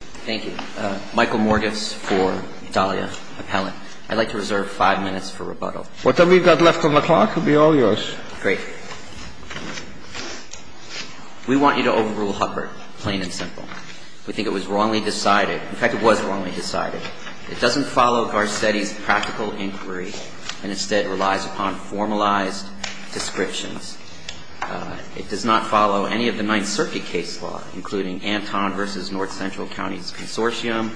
Thank you. Michael Morgis for Dahlia Appellant. I'd like to reserve five minutes for rebuttal. Whatever we've got left on the clock will be all yours. Great. We want you to overrule Hubbard, plain and simple. We think it was wrongly decided. In fact, it was wrongly decided. It doesn't follow Garcetti's practical inquiry and instead relies upon formalized descriptions. It does not follow any of the Ninth Circuit case law, including Anton v. North Central Counties Consortium,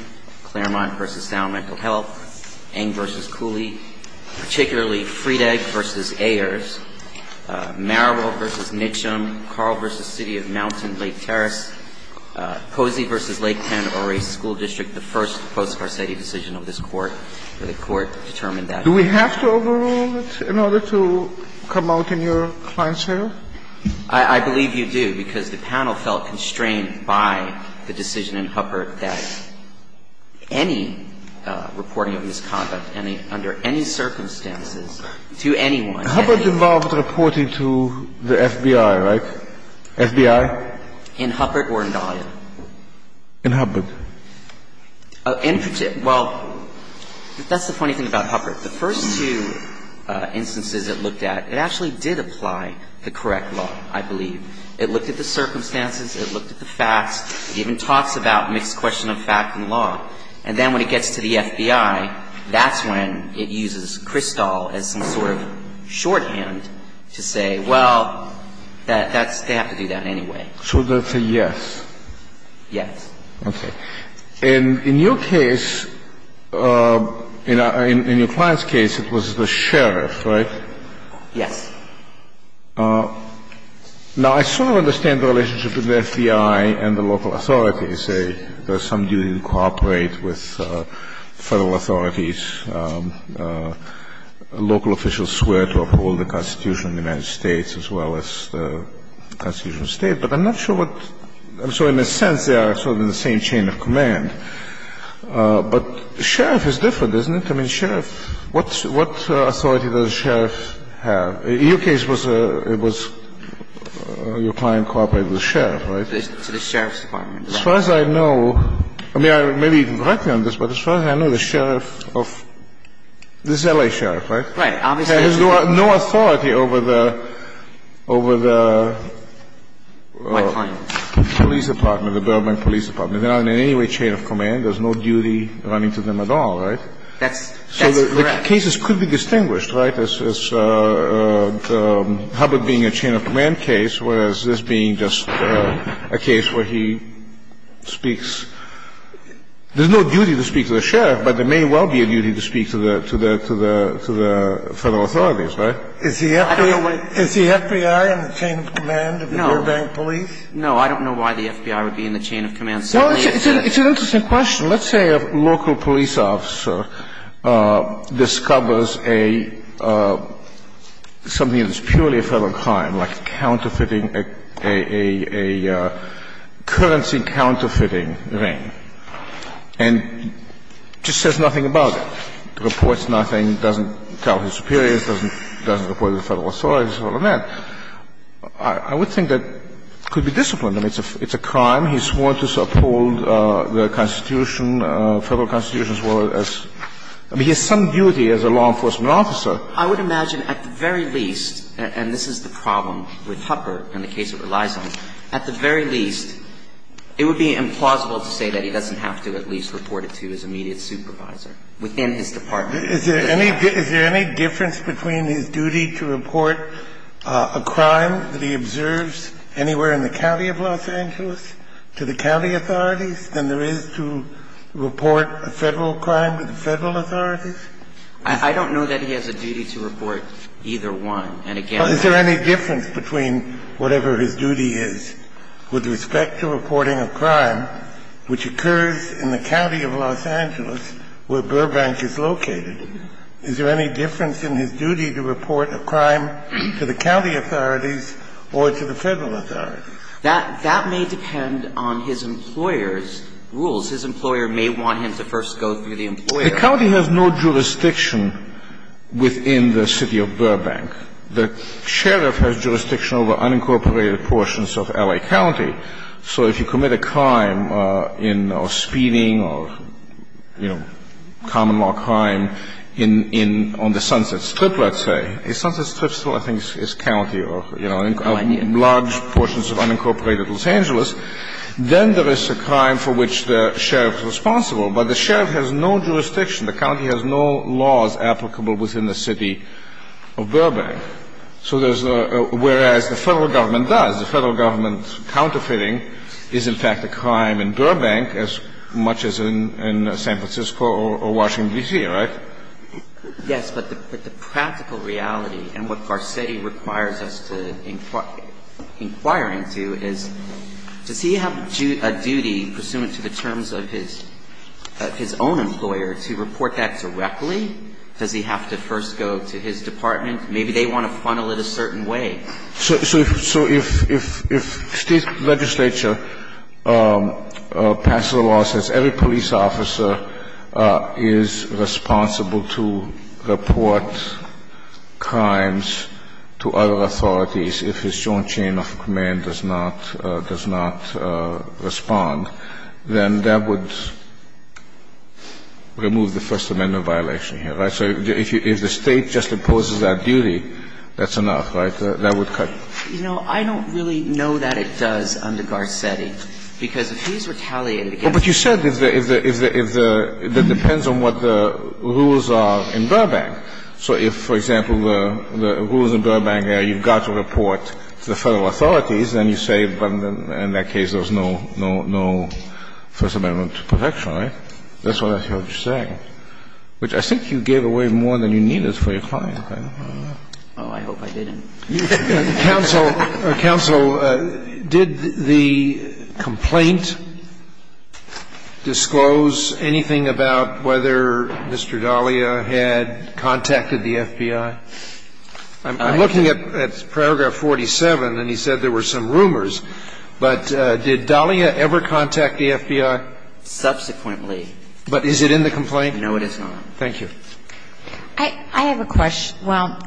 Claremont v. Sound Mental Health, Eng v. Cooley, particularly Friedegg v. Ayers, Marable v. Mitchum, Carl v. City of Mountain, Lake Terrace, Posey v. Lake 10, or a school district, the first post-Garcetti decision of this Court, where the Court determined that. Do we have to overrule it in order to come out in your client's favor? I believe you do, because the panel felt constrained by the decision in Hubbard that any reporting of misconduct under any circumstances to anyone. Hubbard involved reporting to the FBI, right? FBI? In Hubbard or in Dahlia? In Hubbard. Well, that's the funny thing about Hubbard. The first two instances it looked at, it actually did apply the correct law, I believe. It looked at the circumstances. It looked at the facts. It even talks about mixed question of fact and law. And then when it gets to the FBI, that's when it uses Kristall as some sort of shorthand to say, well, that's they have to do that anyway. So that's a yes? Yes. Okay. In your case, in your client's case, it was the sheriff, right? Yes. Now, I sort of understand the relationship between the FBI and the local authorities. There's some duty to cooperate with Federal authorities. Local officials swear to uphold the Constitution of the United States as well as the Constitution of the State. But I'm not sure what, I'm sorry, in a sense they are sort of in the same chain of command. But sheriff is different, isn't it? I mean, sheriff, what authority does a sheriff have? In your case, it was your client cooperated with the sheriff, right? To the sheriff's department, right. As far as I know, I mean, maybe directly on this, but as far as I know, the sheriff of, this is L.A. Sheriff, right? Right. He has no authority over the police department, the Burbank police department. They're not in any way chain of command. There's no duty running to them at all, right? That's correct. So the cases could be distinguished, right? As Hubbard being a chain of command case, whereas this being just a case where he speaks There's no duty to speak to the sheriff, but there may well be a duty to speak to the Federal authorities, right? Is the FBI in the chain of command of the Burbank police? No. No, I don't know why the FBI would be in the chain of command. No, it's an interesting question. Let's say a local police officer discovers a, something that's purely a Federal crime, like counterfeiting, a currency counterfeiting ring, and just says nothing about it, reports nothing, doesn't tell his superiors, doesn't report to the Federal authorities, all of that. I would think that could be disciplined. I mean, it's a crime. He swore to uphold the Constitution, Federal Constitution, as well as, I mean, he has some duty as a law enforcement officer. I would imagine at the very least, and this is the problem with Hubbard and the case it relies on, at the very least, it would be implausible to say that he doesn't have to at least report it to his immediate supervisor within his department. Is there any difference between his duty to report a crime that he observes anywhere in the county of Los Angeles to the county authorities than there is to report a Federal crime to the Federal authorities? I don't know that he has a duty to report either one. And again, I don't know. Is there any difference between whatever his duty is with respect to reporting a crime which occurs in the county of Los Angeles where Burbank is located? Is there any difference in his duty to report a crime to the county authorities or to the Federal authorities? That may depend on his employer's rules. His employer may want him to first go through the employer. The county has no jurisdiction within the city of Burbank. The sheriff has jurisdiction over unincorporated portions of L.A. County. So if you commit a crime in speeding or, you know, common law crime on the Sunset Strip, let's say, a Sunset Strip, I think, is county or, you know, large portions of unincorporated Los Angeles, then there is a crime for which the sheriff is responsible. But the sheriff has no jurisdiction. The county has no laws applicable within the city of Burbank. So there's a – whereas the Federal government does. The Federal government counterfeiting is, in fact, a crime in Burbank as much as in San Francisco or Washington, D.C., right? Yes. But the practical reality and what Garcetti requires us to inquire into is, does he have a duty pursuant to the terms of his own employer to report that directly? Does he have to first go to his department? Maybe they want to funnel it a certain way. So if State legislature passes a law that says every police officer is responsible to report crimes to other authorities if his joint chain of command does not respond, then that would remove the First Amendment violation here, right? So if the State just imposes that duty, that's enough, right? That would cut you. You know, I don't really know that it does under Garcetti, because if he's retaliated against the Federal government. But you said if the – that depends on what the rules are in Burbank. So if, for example, the rules in Burbank are you've got to report to the Federal authorities, then you say in that case there was no First Amendment protection, right? That's what I heard you saying, which I think you gave away more than you needed for your client, right? Oh, I hope I didn't. Counsel, counsel, did the complaint disclose anything about whether Mr. Dahlia had contacted the FBI? I'm looking at paragraph 47, and he said there were some rumors. But did Dahlia ever contact the FBI? Subsequently. But is it in the complaint? No, it is not. Thank you. I have a question. Well,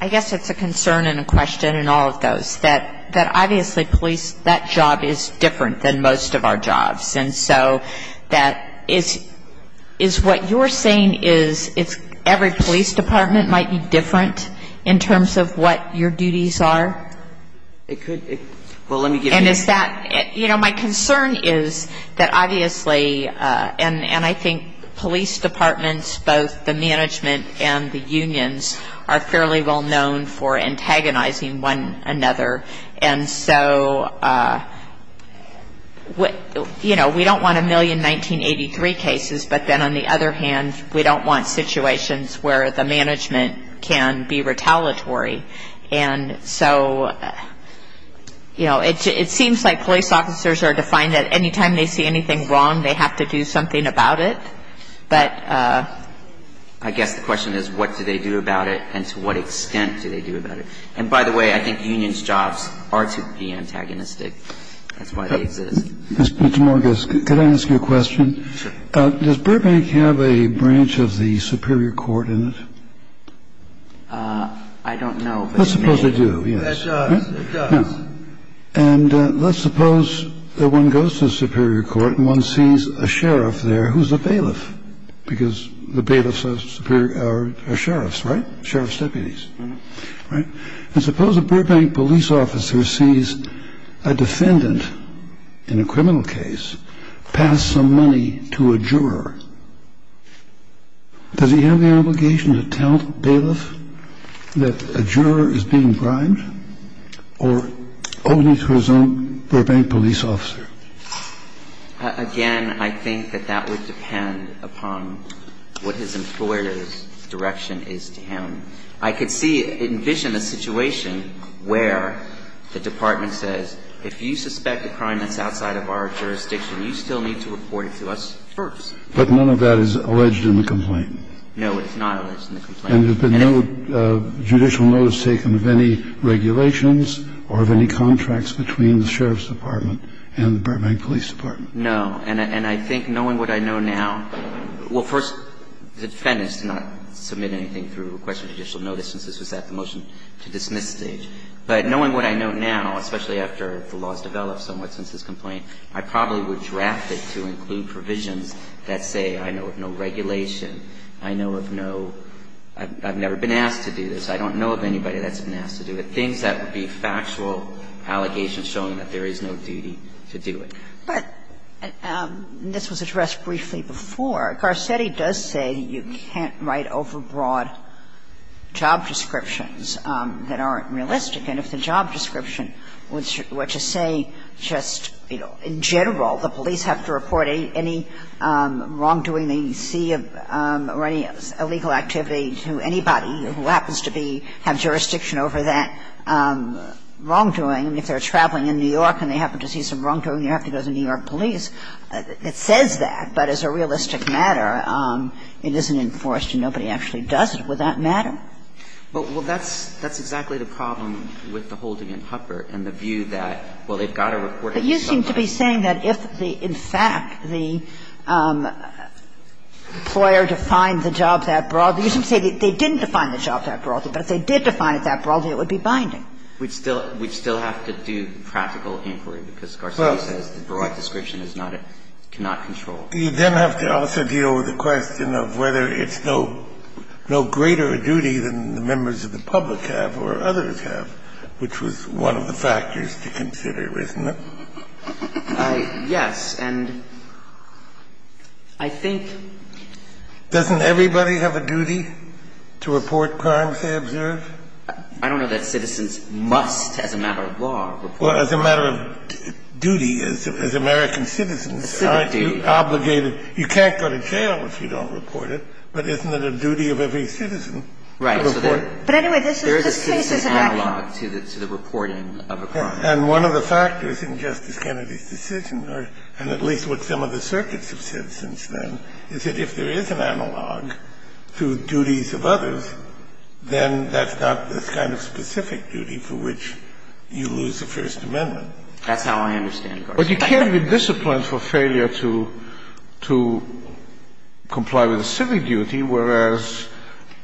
I guess it's a concern and a question in all of those, that obviously police – that job is different than most of our jobs. And so that – is what you're saying is every police department might be different in terms of what your duties are? It could – well, let me give you – And is that – you know, my concern is that obviously – and I think police departments, both the management and the unions, are fairly well known for antagonizing one another. And so, you know, we don't want a million 1983 cases, but then on the other hand, we don't want situations where the management can be retaliatory. And so, you know, it seems like police officers are defined that any time they see anything wrong, they have to do something about it. But I guess the question is, what do they do about it and to what extent do they do about it? And by the way, I think unions' jobs are to be antagonistic. That's why they exist. Mr. Morgan, could I ask you a question? Sure. Does Burbank have a branch of the superior court in it? I don't know, but it may. Let's suppose they do, yes. It does. And let's suppose that one goes to the superior court and one sees a sheriff there who's a bailiff, because the bailiffs are sheriffs, right? Sheriff's deputies, right? And suppose a Burbank police officer sees a defendant in a criminal case pass some money to a juror. Does he have the obligation to tell the bailiff that a juror is being bribed or only to his own Burbank police officer? Again, I think that that would depend upon what his employer's direction is to him. I could see, envision a situation where the department says, if you suspect a crime that's outside of our jurisdiction, you still need to report it to us first. But none of that is alleged in the complaint. No, it's not alleged in the complaint. And there's been no judicial notice taken of any regulations or of any contracts between the sheriff's department and the Burbank police department. No. And I think knowing what I know now – well, first, the defendant's not submitting anything through a question of judicial notice since this was at the motion-to-dismiss stage. But knowing what I know now, especially after the law has developed somewhat since this complaint, I probably would draft it to include provisions that say I know of no regulation, I know of no – I've never been asked to do this, I don't know of anybody that's been asked to do it. And things that would be factual allegations showing that there is no duty to do it. But this was addressed briefly before. Garcetti does say you can't write overbroad job descriptions that aren't realistic. And if the job description were to say just, you know, in general the police have to report any wrongdoing they see or any illegal activity to anybody who happens to be – have jurisdiction over that wrongdoing. If they're traveling in New York and they happen to see some wrongdoing, you have to go to the New York police. It says that. But as a realistic matter, it isn't enforced and nobody actually does it. Would that matter? Well, that's – that's exactly the problem with the holding in Huppert and the view that, well, they've got to report it to somebody. But you seem to be saying that if the – in fact, the employer defined the job that broadly. You seem to say that they didn't define the job that broadly, but if they did define it that broadly, it would be binding. We'd still – we'd still have to do practical inquiry because Garcetti says the broad description is not a – cannot control. You then have to also deal with the question of whether it's no greater a duty than the members of the public have or others have, which was one of the factors to consider, isn't it? Yes. And I think – Doesn't everybody have a duty to report crimes they observe? I don't know that citizens must, as a matter of law, report a crime. Well, as a matter of duty, as American citizens, aren't you obligated – you can't go to jail if you don't report it, but isn't it a duty of every citizen to report? Right. But anyway, this case is – There is a citizen analog to the reporting of a crime. And one of the factors in Justice Kennedy's decision, or at least what some of the circuits have said since then, is that if there is an analog to duties of others, then that's not the kind of specific duty for which you lose the First Amendment. That's how I understand it. But you can't be disciplined for failure to – to comply with a civic duty, whereas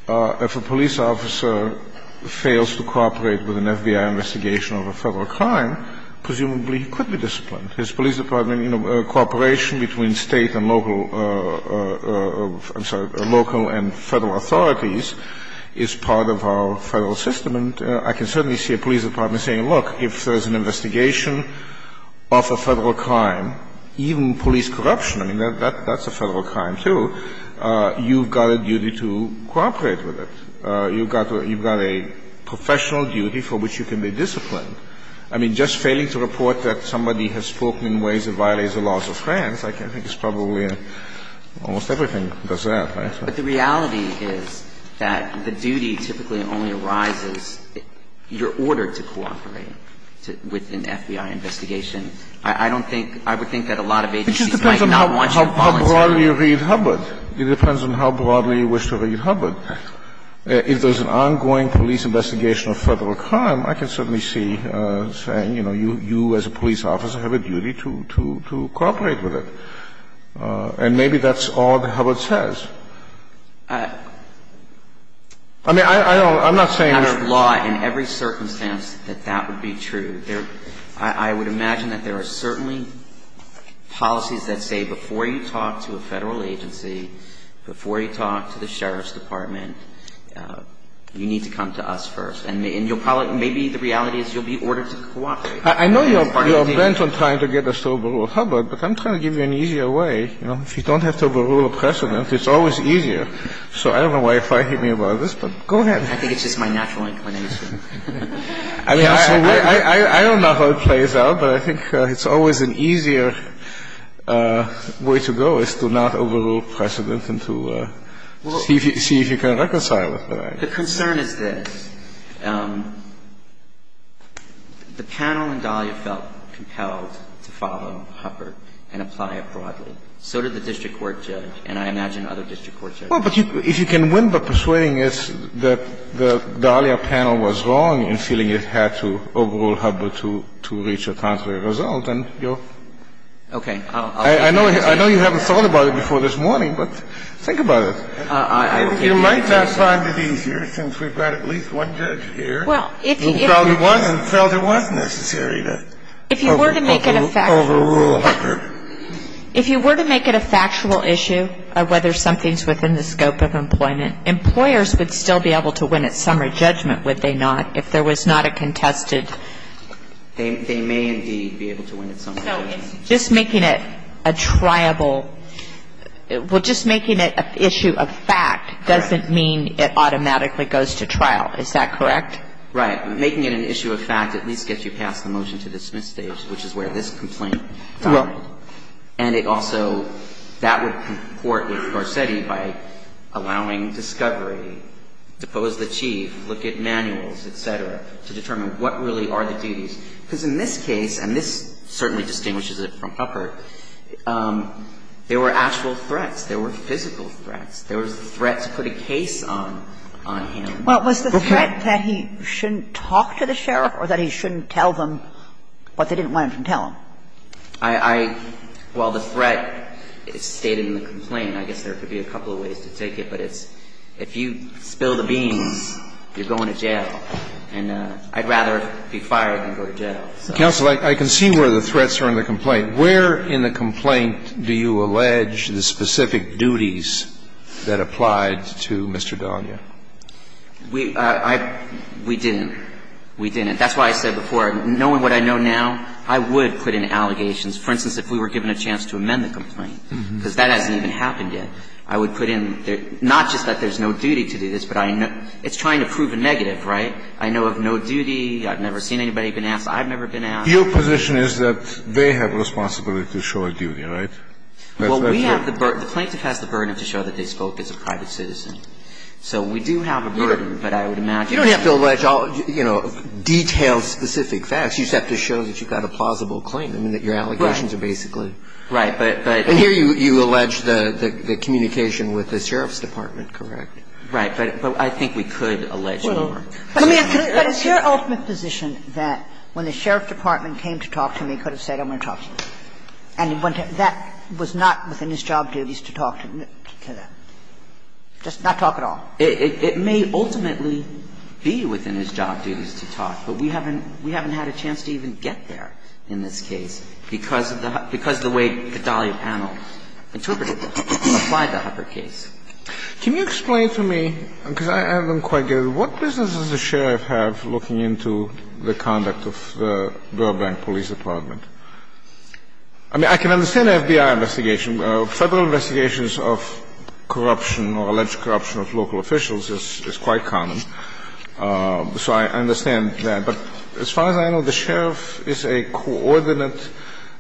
if a police officer fails to cooperate with an FBI investigation of a Federal crime, presumably he could be disciplined. His police department – you know, cooperation between State and local – I'm sorry, local and Federal authorities is part of our Federal system. And I can certainly see a police department saying, look, if there's an investigation of a Federal crime, even police corruption – I mean, that's a Federal crime, too – you've got a duty to cooperate with it. You've got a – you've got a professional duty for which you can be disciplined. I mean, just failing to report that somebody has spoken in ways that violates the laws of France, I think is probably – almost everything does that, right? But the reality is that the duty typically only arises – you're ordered to cooperate with an FBI investigation. I don't think – I would think that a lot of agencies might not want you to volunteer. Kennedy, it depends on how broadly you read Hubbard. It depends on how broadly you wish to read Hubbard. If there's an ongoing police investigation of Federal crime, I can certainly see saying, you know, you as a police officer have a duty to cooperate with it. And maybe that's all that Hubbard says. I mean, I don't – I'm not saying that's true. Out of law, in every circumstance, that that would be true. I would imagine that there are certainly policies that say before you talk to a Federal agency, before you talk to the sheriff's department, you need to come to us first. And you'll probably – maybe the reality is you'll be ordered to cooperate. I know you're bent on trying to get us to overrule Hubbard, but I'm trying to give you an easier way. You know, if you don't have to overrule a precedent, it's always easier. So I don't know why you're fighting me about this, but go ahead. I think it's just my natural inclination. I don't know how it plays out, but I think it's always an easier way to go is to not overrule precedent and to see if you can reconcile it. The concern is this. The panel in Dahlia felt compelled to follow Hubbard and apply it broadly. So did the district court judge, and I imagine other district court judges. Well, but if you can win by persuading us that the Dahlia panel was wrong in feeling it had to overrule Hubbard to reach a contrary result, then you're – Okay. I know you haven't thought about it before this morning, but think about it. You might not find it easier since we've got at least one judge here who felt it was necessary to overrule Hubbard. If you were to make it a factual issue of whether something's within the scope of employment, employers would still be able to win at summary judgment, would they not, if there was not a contested – They may indeed be able to win at summary judgment. So it's just making it a triable – well, just making it an issue of fact doesn't mean it automatically goes to trial. Is that correct? Right. Making it an issue of fact at least gets you past the motion to dismiss stage, which is where this complaint found it. And it also – that would comport with Garcetti by allowing discovery, depose the chief, look at manuals, et cetera, to determine what really are the duties. Because in this case, and this certainly distinguishes it from Hubbard, there were actual threats. There were physical threats. There was the threat to put a case on him. Well, was the threat that he shouldn't talk to the sheriff or that he shouldn't tell them what they didn't want him to tell them? I – well, the threat is stated in the complaint. I guess there could be a couple of ways to take it, but it's if you spill the beans, you're going to jail. And I'd rather be fired than go to jail. Counsel, I can see where the threats are in the complaint. Where in the complaint do you allege the specific duties that applied to Mr. Donya? We – I – we didn't. We didn't. That's why I said before, knowing what I know now, I would put in allegations. For instance, if we were given a chance to amend the complaint, because that hasn't even happened yet, I would put in not just that there's no duty to do this, but I know – it's trying to prove a negative, right? I know of no duty. I've never seen anybody been asked. I've never been asked. Your position is that they have responsibility to show a duty, right? Well, we have the burden. The plaintiff has the burden to show that they spoke as a private citizen. So we do have a burden, but I would imagine. You don't have to allege all, you know, detailed specific facts. You just have to show that you've got a plausible claim. I mean, that your allegations are basically. Right. But. And here you allege the communication with the sheriff's department, correct? Right. But I think we could allege more. Well, let me ask you. But is your ultimate position that when the sheriff's department came to talk to me, he could have said, I'm going to talk to you? And that was not within his job duties to talk to that? Just not talk at all? It may ultimately be within his job duties to talk, but we haven't had a chance to even get there in this case because of the way the Dahlia panel interpreted this, applied the Hucker case. Can you explain to me, because I haven't quite got it, what business does the sheriff have looking into the conduct of the Burbank Police Department? I mean, I can understand the FBI investigation. Federal investigations of corruption or alleged corruption of local officials is quite common. So I understand that. But as far as I know, the sheriff is a coordinate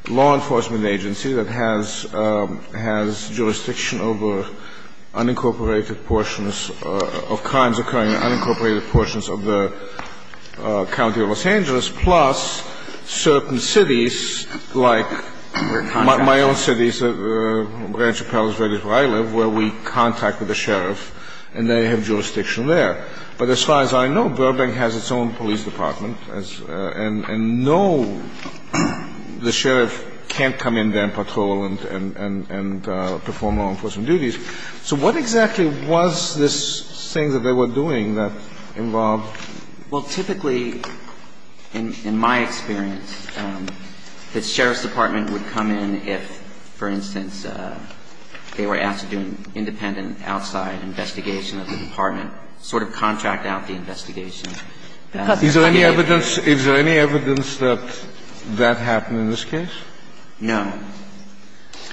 law enforcement agency that has jurisdiction over unincorporated portions of crimes occurring in unincorporated portions of the county of Los Angeles, plus certain cities like my own city, Rancho Palos Verdes, where I live, where we contacted the sheriff, and they have jurisdiction there. But as far as I know, Burbank has its own police department, and no, the sheriff can't come in there and patrol and perform law enforcement duties. So what exactly was this thing that they were doing that involved? Well, typically, in my experience, the sheriff's department would come in if, for instance, they were asked to do an independent outside investigation of the department, sort of contract out the investigation. Is there any evidence that that happened in this case? No.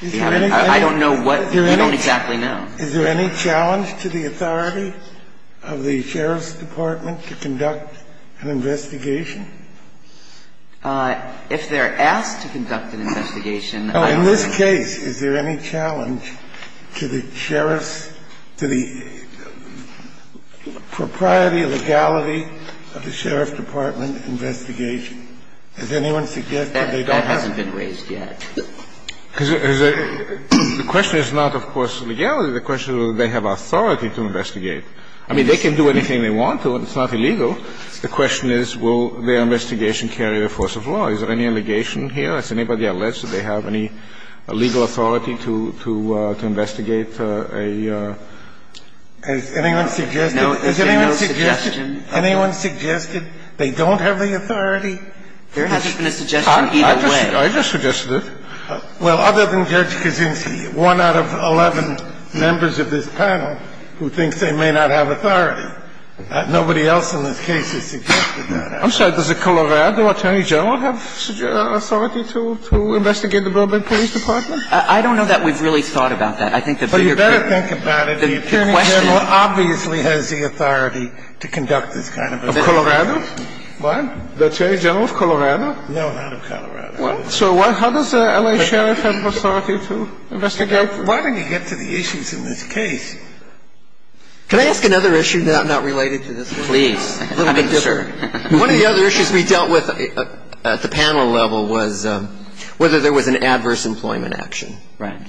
I don't know what you don't exactly know. Is there any challenge to the authority of the sheriff's department to conduct an investigation? If they're asked to conduct an investigation, I don't know. In this case, is there any challenge to the sheriff's to the propriety, legality of the sheriff's department investigation? Does anyone suggest that they don't have that? The question is not, of course, legality. The question is whether they have authority to investigate. I mean, they can do anything they want to. It's not illegal. The question is, will their investigation carry the force of law? Is there any allegation here? Has anybody alleged that they have any legal authority to investigate a ---- Has anyone suggested? No. Is there no suggestion? Has anyone suggested they don't have the authority? There hasn't been a suggestion either way. I just suggested it. Well, other than Judge Kaczynski, one out of 11 members of this panel who thinks they may not have authority. Nobody else in this case has suggested that. I'm sorry. Does the Colorado attorney general have authority to investigate the Burbank Police Department? I don't know that we've really thought about that. I think the bigger question ---- But you better think about it. The attorney general obviously has the authority to conduct this kind of investigation. Of Colorado? What? The attorney general of Colorado? No, not of Colorado. Well, so how does an L.A. sheriff have authority to investigate? Why don't you get to the issues in this case? Can I ask another issue not related to this one? Please. A little bit different. One of the other issues we dealt with at the panel level was whether there was an adverse employment action. Right.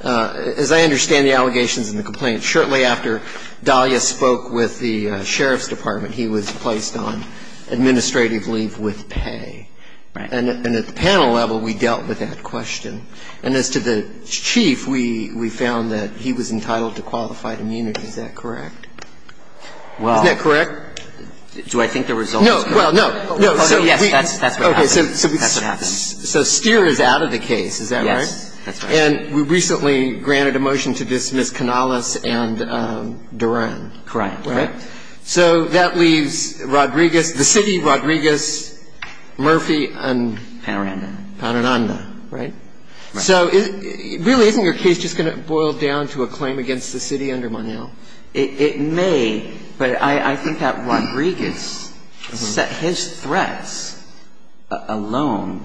As I understand the allegations and the complaints, shortly after Dahlia spoke with the sheriff's department, he was placed on administrative leave with pay. Right. And at the panel level, we dealt with that question. And as to the chief, we found that he was entitled to qualified immunity. Is that correct? Well ---- Isn't that correct? Do I think the results ---- No. Well, no. No. So we ---- Yes. That's what happened. That's what happened. So Steer is out of the case. Is that right? That's right. And we recently granted a motion to dismiss Canales and Duran. Correct. Right? So that leaves Rodriguez, the city of Rodriguez, Murphy and ---- Panaranda. Right? Right. So really, isn't your case just going to boil down to a claim against the city under Monell? It may, but I think that Rodriguez, his threats alone,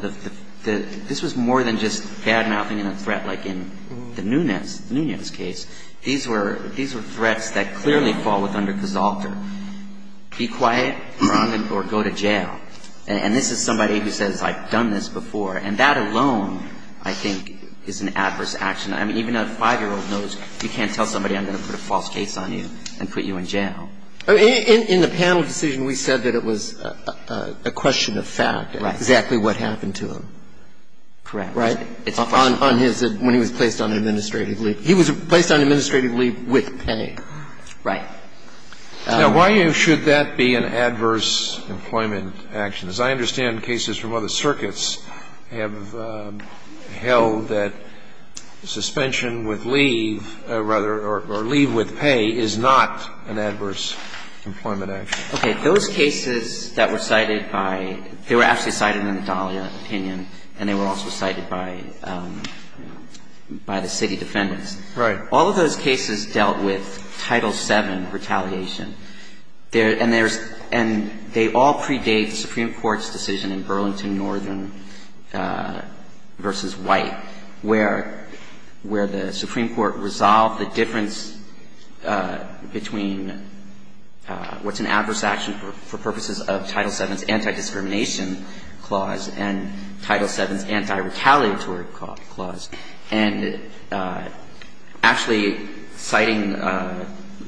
this was more than just bad-mouthing in a threat like in the Nunez case. These were threats that clearly fall with under Casalter. Be quiet, run, or go to jail. And this is somebody who says, I've done this before. And that alone, I think, is an adverse action. I mean, even a 5-year-old knows you can't tell somebody I'm going to put a false case on you and put you in jail. In the panel decision, we said that it was a question of fact. Right. Exactly what happened to him. Correct. Right? It's a question of fact. And he was placed on administrative leave. On his ---- when he was placed on administrative leave. He was placed on administrative leave with pay. Right. Now, why should that be an adverse employment action? As I understand, cases from other circuits have held that suspension with leave or leave with pay is not an adverse employment action. Okay. Those cases that were cited by ---- they were actually cited in the Dahlia opinion, and they were also cited by the city defendants. Right. All of those cases dealt with Title VII retaliation. And they all predate the Supreme Court's decision in Burlington, Northern v. White, where the Supreme Court resolved the difference between what's an adverse action for purposes of Title VII's anti-discrimination clause and Title VII's anti-retaliatory clause. And actually, citing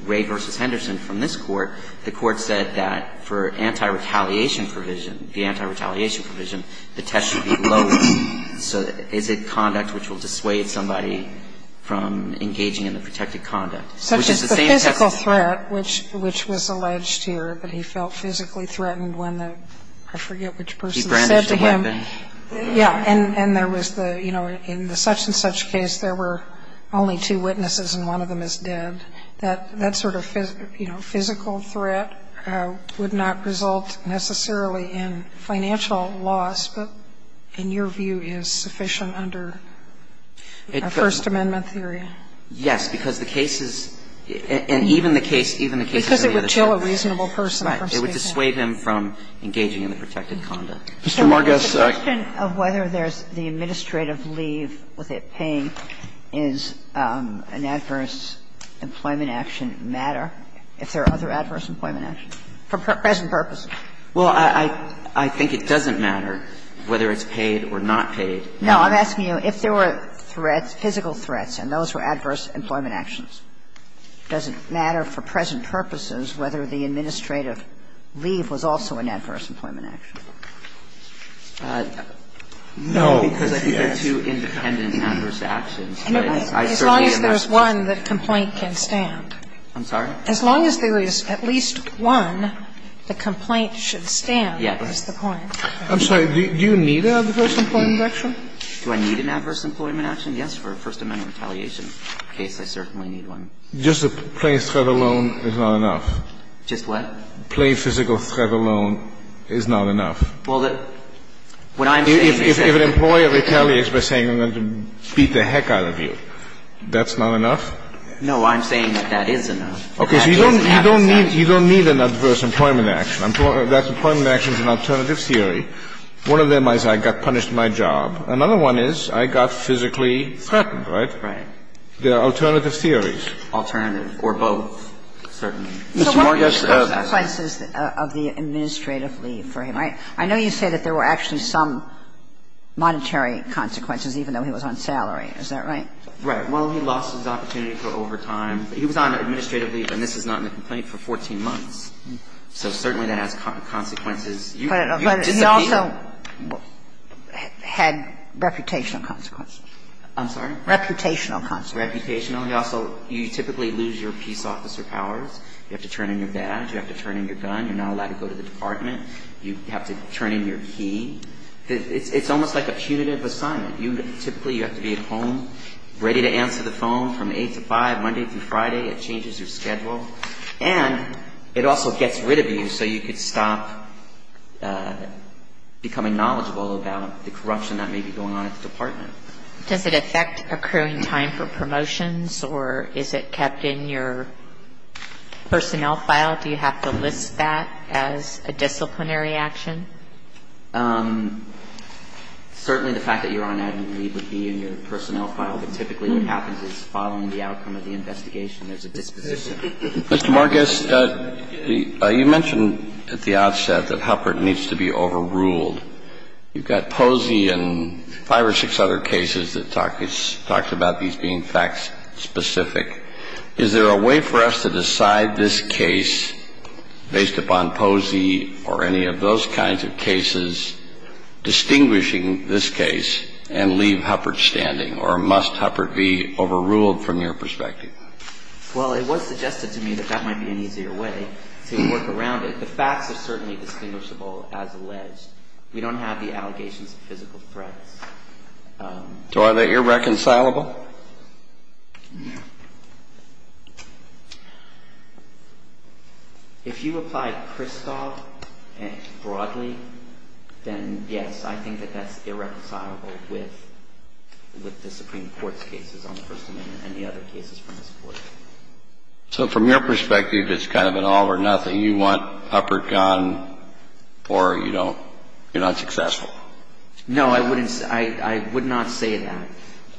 Ray v. Henderson from this Court, the Court said that for anti-retaliation provision, the anti-retaliation provision, the test should be lower. So is it conduct which will dissuade somebody from engaging in the protected conduct? Such as the physical threat, which was alleged here that he felt physically threatened when the ---- I forget which person said to him. He brandished a weapon. Yeah. And there was the, you know, in the such-and-such case, there were only two witnesses and one of them is dead. That sort of, you know, physical threat would not result necessarily in financial loss, but in your view is sufficient under the First Amendment theory? Yes, because the case is and even the case, even the case of the other case. Because it would kill a reasonable person from speaking. Right. It would dissuade him from engaging in the protected conduct. Mr. Margis, I. The question of whether there's the administrative leave with it paying is an adverse employment action matter, if there are other adverse employment actions, for present purposes? Well, I think it doesn't matter whether it's paid or not paid. No, I'm asking you if there were threats, physical threats, and those were adverse employment actions. Does it matter for present purposes whether the administrative leave was also an adverse employment action? No, because I think there are two independent adverse actions. As long as there's one, the complaint can stand. I'm sorry? As long as there is at least one, the complaint should stand is the point. I'm sorry. Do you need an adverse employment action? Do I need an adverse employment action? Yes, for a First Amendment retaliation case, I certainly need one. Just a plain threat alone is not enough. Just what? A plain physical threat alone is not enough. Well, what I'm saying is that If an employer retaliates by saying I'm going to beat the heck out of you, that's not enough? No, I'm saying that that is enough. Okay. So you don't need an adverse employment action. That employment action is an alternative theory. One of them is I got punished my job. Another one is I got physically threatened, right? Right. They are alternative theories. Alternative or both, certainly. So what are the consequences of the administrative leave for him? I know you say that there were actually some monetary consequences, even though he was on salary. Is that right? Right. Well, he lost his opportunity for overtime. He was on administrative leave, and this is not in the complaint, for 14 months. So certainly that has consequences. You disappear. But he also had reputational consequences. I'm sorry? Reputational consequences. Reputational. He also you typically lose your peace officer powers. You have to turn in your badge. You have to turn in your gun. You're not allowed to go to the department. You have to turn in your key. It's almost like a punitive assignment. You typically you have to be at home, ready to answer the phone from 8 to 5, Monday through Friday. It changes your schedule. And it also gets rid of you, so you could stop becoming knowledgeable about the corruption that may be going on at the department. Does it affect accruing time for promotions, or is it kept in your personnel file? Do you have to list that as a disciplinary action? Certainly the fact that you're on admin leave would be in your personnel file. But typically what happens is following the outcome of the investigation, there's a disposition. Mr. Margis, you mentioned at the outset that Huppert needs to be overruled. You've got Posey and five or six other cases that talk about these being fact-specific. Is there a way for us to decide this case based upon Posey or any of those kinds of cases, distinguishing this case, and leave Huppert standing? Or must Huppert be overruled from your perspective? Well, it was suggested to me that that might be an easier way to work around it. The facts are certainly distinguishable as alleged. We don't have the allegations of physical threats. So are they irreconcilable? If you apply Kristol broadly, then yes, I think that that's irreconcilable with the Supreme Court's cases on the First Amendment and the other cases from this Court. So from your perspective, it's kind of an all or nothing. You want Huppert gone, or you're not successful. No, I would not say that.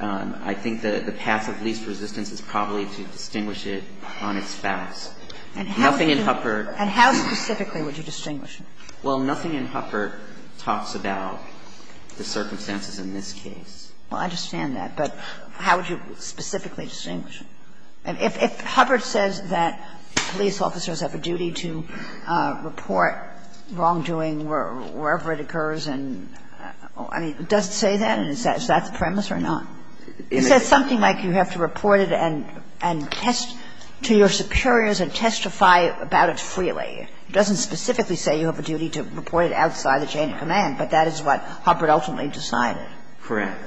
I think that the Supreme Court's case is irreconcilable. And I think the path of least resistance is probably to distinguish it on its facts. Nothing in Huppert can be unreasonable. And how specifically would you distinguish it? Well, nothing in Huppert talks about the circumstances in this case. Well, I understand that. But how would you specifically distinguish it? If Huppert says that police officers have a duty to report wrongdoing wherever it occurs, and he does say that, is that the premise or not? Is that something like you have to report it and test to your superiors and testify about it freely? It doesn't specifically say you have a duty to report it outside the chain of command. But that is what Huppert ultimately decided. Correct.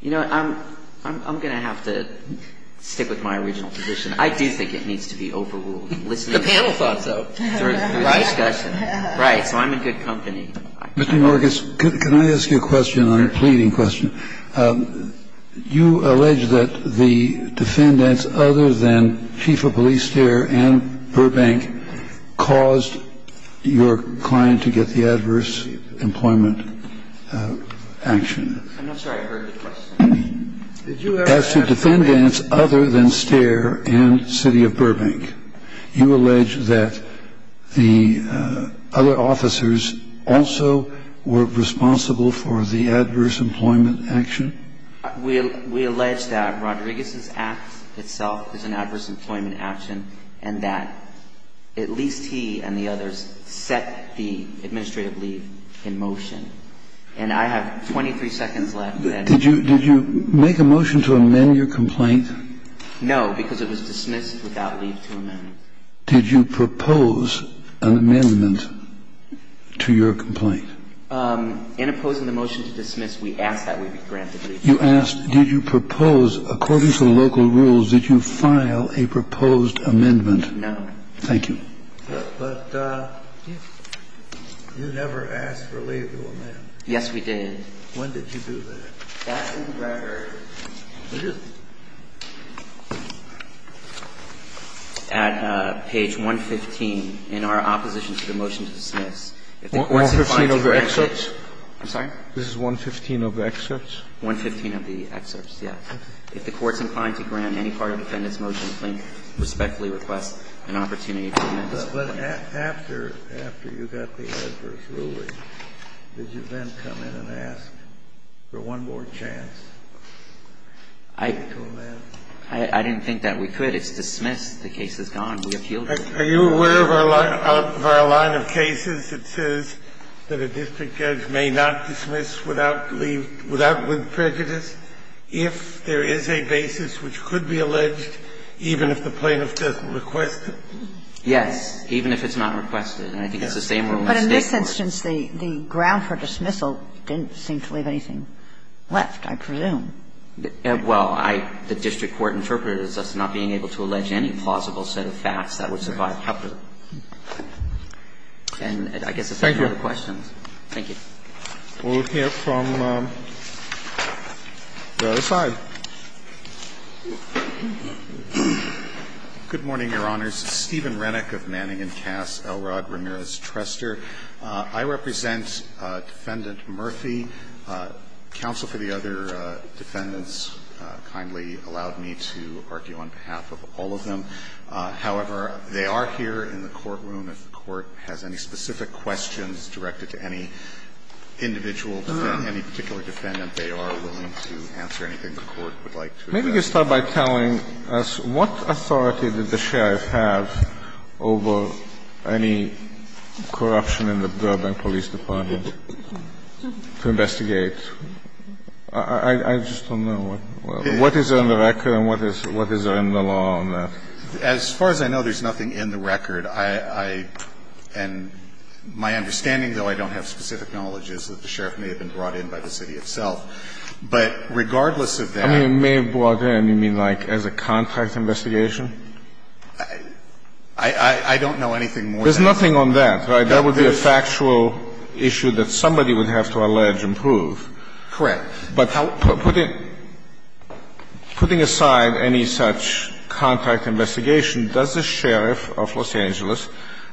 You know, I'm going to have to stick with my original position. I do think it needs to be overruled. The panel thought so. Through the discussion. Right. So I'm in good company. Mr. Norgas, can I ask you a question, a pleading question? You allege that the defendants other than Chief of Police Stair and Burbank caused your client to get the adverse employment action. I'm not sure I heard the question. As to defendants other than Stair and City of Burbank, you allege that the other officers also were responsible for the adverse employment action? We allege that Rodriguez's act itself is an adverse employment action, and that at least he and the others set the administrative leave in motion. And I have 23 seconds left. Did you make a motion to amend your complaint? No, because it was dismissed without leave to amend. Did you propose an amendment to your complaint? In opposing the motion to dismiss, we ask that we be granted leave to amend. Did you propose, according to the local rules, did you file a proposed amendment? No. Thank you. But you never asked for leave to amend. Yes, we did. When did you do that? That's in the record. It is? At page 115 in our opposition to the motion to dismiss. 115 of the excerpts? I'm sorry? This is 115 of the excerpts? 115 of the excerpts, yes. Okay. If the Court's inclined to grant any part of the defendant's motion, please respectfully request an opportunity to amend this complaint. But after you got the adverse ruling, did you then come in and ask for one more chance to amend? I didn't think that we could. It's dismissed. The case is gone. We appealed it. Are you aware of our line of cases that says that a district judge may not dismiss without prejudice if there is a basis which could be alleged even if the plaintiff doesn't request it? Yes. Even if it's not requested. And I think it's the same rule in the State court. But in this instance, the ground for dismissal didn't seem to leave anything left, I presume. Well, I – the district court interpreted it as us not being able to allege any plausible set of facts that would survive Huppert. And I guess that's it for the questions. Thank you. Thank you. We'll hear from the other side. Good morning, Your Honors. Stephen Rennick of Manning & Cass, Elrod Ramirez Trestor. I represent Defendant Murphy. Counsel for the other defendants kindly allowed me to argue on behalf of all of them. However, they are here in the courtroom. If the Court has any specific questions directed to any individual defendant, they are willing to answer anything the Court would like to. Maybe you start by telling us what authority did the sheriff have over any corruption in the Burbank Police Department to investigate? I just don't know. What is on the record and what is in the law on that? As far as I know, there's nothing in the record. I – and my understanding, though I don't have specific knowledge, is that the sheriff may have been brought in by the city itself. But regardless of that – I mean, may have brought in, you mean like as a contract investigation? I don't know anything more than that. There's nothing on that, right? That would be a factual issue that somebody would have to allege and prove. Correct. But putting aside any such contract investigation, does the sheriff of Los Angeles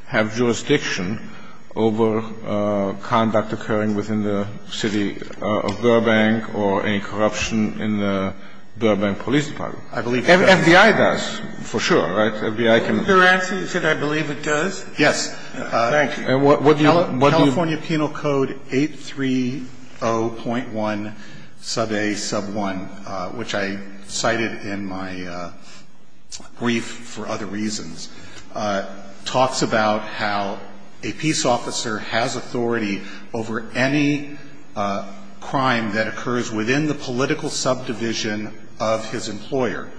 have jurisdiction over conduct occurring within the city of Burbank or any corruption in the Burbank Police Department? I believe he does. FBI does, for sure, right? FBI can – Your answer is that I believe it does? Yes. Thank you. And what do you – California Penal Code 830.1 sub A sub 1, which I cited in my brief for other reasons, talks about how a peace officer has authority over any crime that occurs within the political subdivision of his employer.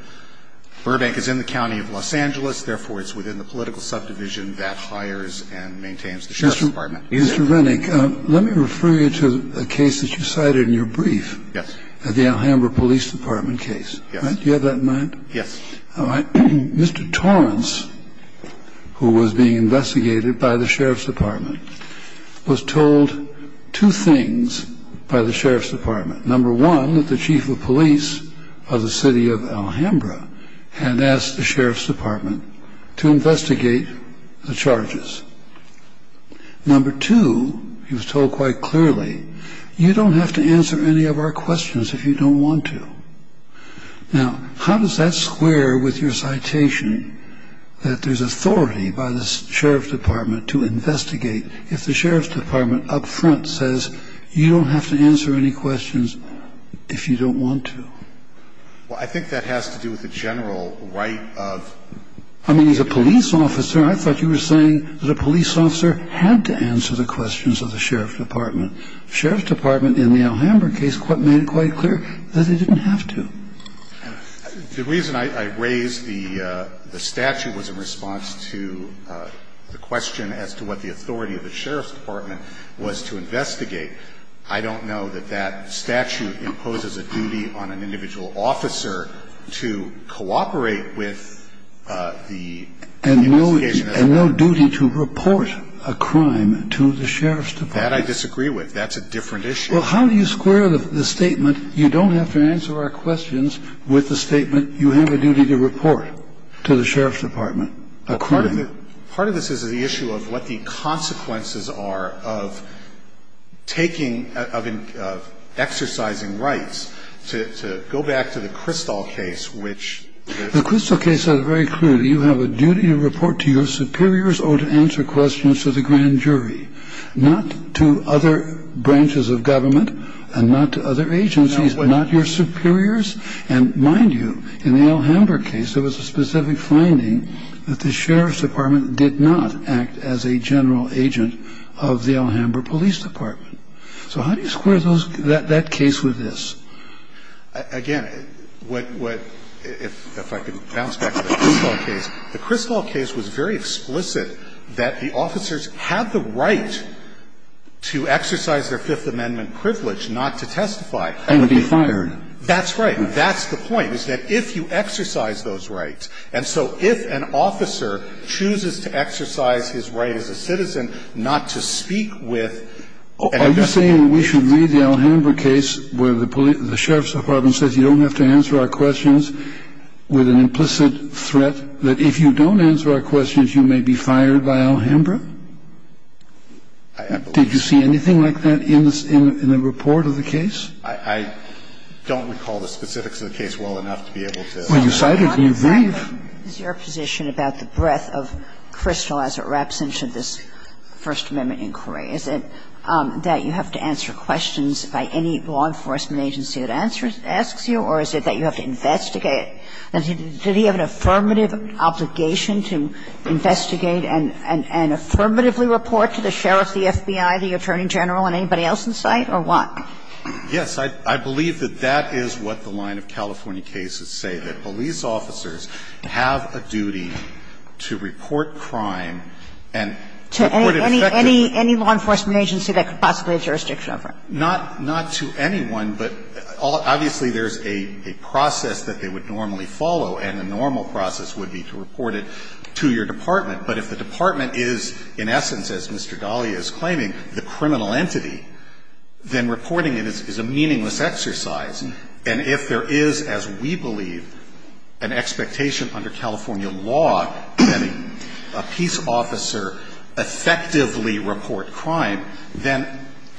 Burbank is in the county of Los Angeles, therefore it's within the political subdivision that hires and maintains the sheriff's department. Mr. Rennick, let me refer you to a case that you cited in your brief. Yes. The Alhambra Police Department case. Yes. Do you have that in mind? Yes. All right. Mr. Torrance, who was being investigated by the sheriff's department, was told two things by the sheriff's department. Number one, that the chief of police of the city of Alhambra had asked the sheriff's department to investigate the charges. Number two, he was told quite clearly, you don't have to answer any of our questions if you don't want to. Now, how does that square with your citation that there's authority by the sheriff's department to investigate if the sheriff's department up front says, you don't have to answer any questions if you don't want to? Well, I think that has to do with the general right of... I mean, as a police officer, I thought you were saying that a police officer had to answer the questions of the sheriff's department. The sheriff's department in the Alhambra case made it quite clear that they didn't have to. The reason I raised the statute was in response to the question as to what the authority of the sheriff's department was to investigate. I don't know that that statute imposes a duty on an individual officer to cooperate with the investigation... And no duty to report a crime to the sheriff's department. That I disagree with. That's a different issue. Well, how do you square the statement, you don't have to answer our questions, with the statement, you have a duty to report to the sheriff's department? Part of this is the issue of what the consequences are of taking, of exercising rights. To go back to the Crystal case, which... The Crystal case said it very clearly. You have a duty to report to your superiors or to answer questions to the grand jury. Not to other branches of government, and not to other agencies, not your superiors. And mind you, in the Alhambra case, there was a specific finding that the sheriff's department did not act as a general agent of the Alhambra police department. So how do you square that case with this? Again, if I could bounce back to the Crystal case, the Crystal case was very explicit that the officers had the right to exercise their Fifth Amendment privilege not to testify. And be fired. That's right. That's the point, is that if you exercise those rights, and so if an officer chooses to exercise his right as a citizen not to speak with... Are you saying we should read the Alhambra case where the sheriff's department says you don't have to answer our questions with an implicit threat that if you don't answer our questions, you may be fired by Alhambra? I believe... Did you see anything like that in the report of the case? I don't recall the specifics of the case well enough to be able to... Well, you cited it in your brief. I'm not exactly in your position about the breadth of Crystal as it wraps into this First Amendment inquiry. Is it that you have to answer questions by any law enforcement agency that asks you, or is it that you have to investigate? Did he have an affirmative obligation to investigate and affirmatively report to the sheriff, the FBI, the attorney general, and anybody else in sight, or what? Yes. I believe that that is what the line of California cases say, that police officers have a duty to report crime and report it effectively... To any law enforcement agency that could possibly have jurisdiction over it. Not to anyone, but obviously there's a process that they would normally follow, and the normal process would be to report it to your department. But if the department is, in essence, as Mr. Dahlia is claiming, the criminal entity, then reporting it is a meaningless exercise. And if there is, as we believe, an expectation under California law that a peace officer effectively report crime, then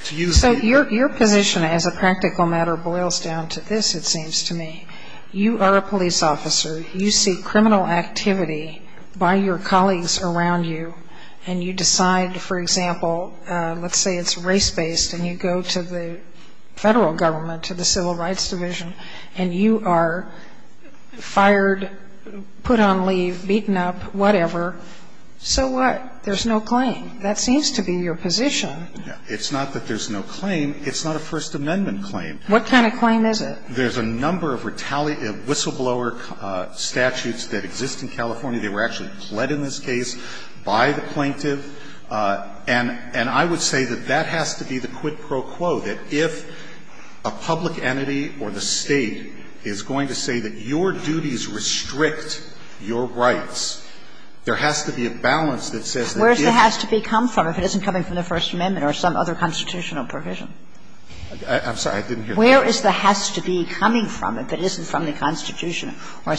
to use... So your position as a practical matter boils down to this, it seems to me. You are a police officer. You see criminal activity by your colleagues around you, and you decide, for example, let's say it's race-based, and you go to the federal government, to the Civil Rights Division, and you are fired, put on leave, beaten up, whatever. So what? There's no claim. That seems to be your position. It's not that there's no claim. It's not a First Amendment claim. What kind of claim is it? There's a number of retaliation, whistleblower statutes that exist in California. They were actually pled in this case by the plaintiff. And I would say that that has to be the quid pro quo, that if a public entity or the State is going to say that your duties restrict your rights, there has to be a balance that says that this... Kagan. I'm sorry. I didn't hear the question. Where is the has to be coming from if it isn't from the Constitution or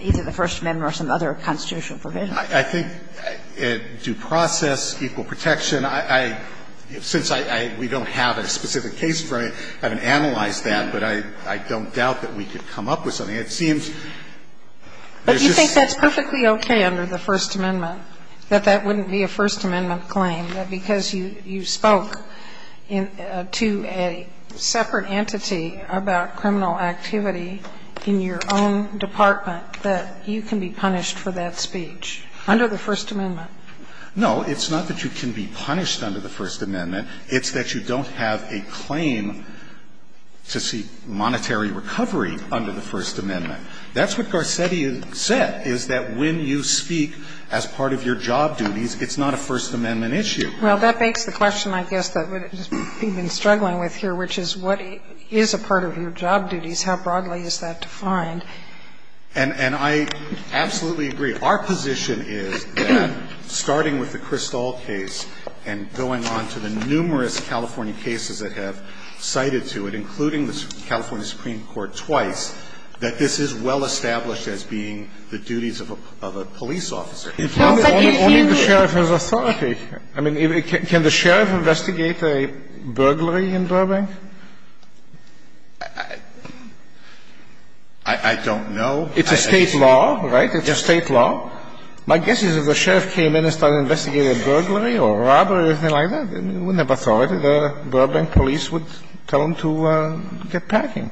either the First Amendment or some other constitutional provision? I think due process, equal protection, I – since I – we don't have a specific case for it, I haven't analyzed that, but I don't doubt that we could come up with something. It seems there's just... But you think that's perfectly okay under the First Amendment? That that wouldn't be a First Amendment claim, that because you spoke in – to a separate entity about criminal activity in your own department, that you can be punished for that speech under the First Amendment? No, it's not that you can be punished under the First Amendment. It's that you don't have a claim to seek monetary recovery under the First Amendment. That's what Garcetti said, is that when you speak as part of your job duties, it's not a First Amendment issue. Well, that begs the question, I guess, that we've been struggling with here, which is what is a part of your job duties? How broadly is that defined? And I absolutely agree. Our position is that, starting with the Kristall case and going on to the numerous California cases that have cited to it, including the California Supreme Court case, which has cited to it twice, that this is well-established as being the duties of a police officer. It's not that only the sheriff has authority. I mean, can the sheriff investigate a burglary in Burbank? I don't know. It's a State law, right? It's a State law. My guess is if the sheriff came in and started investigating a burglary or robbery or anything like that, he wouldn't have authority. The Burbank police would tell him to get packing.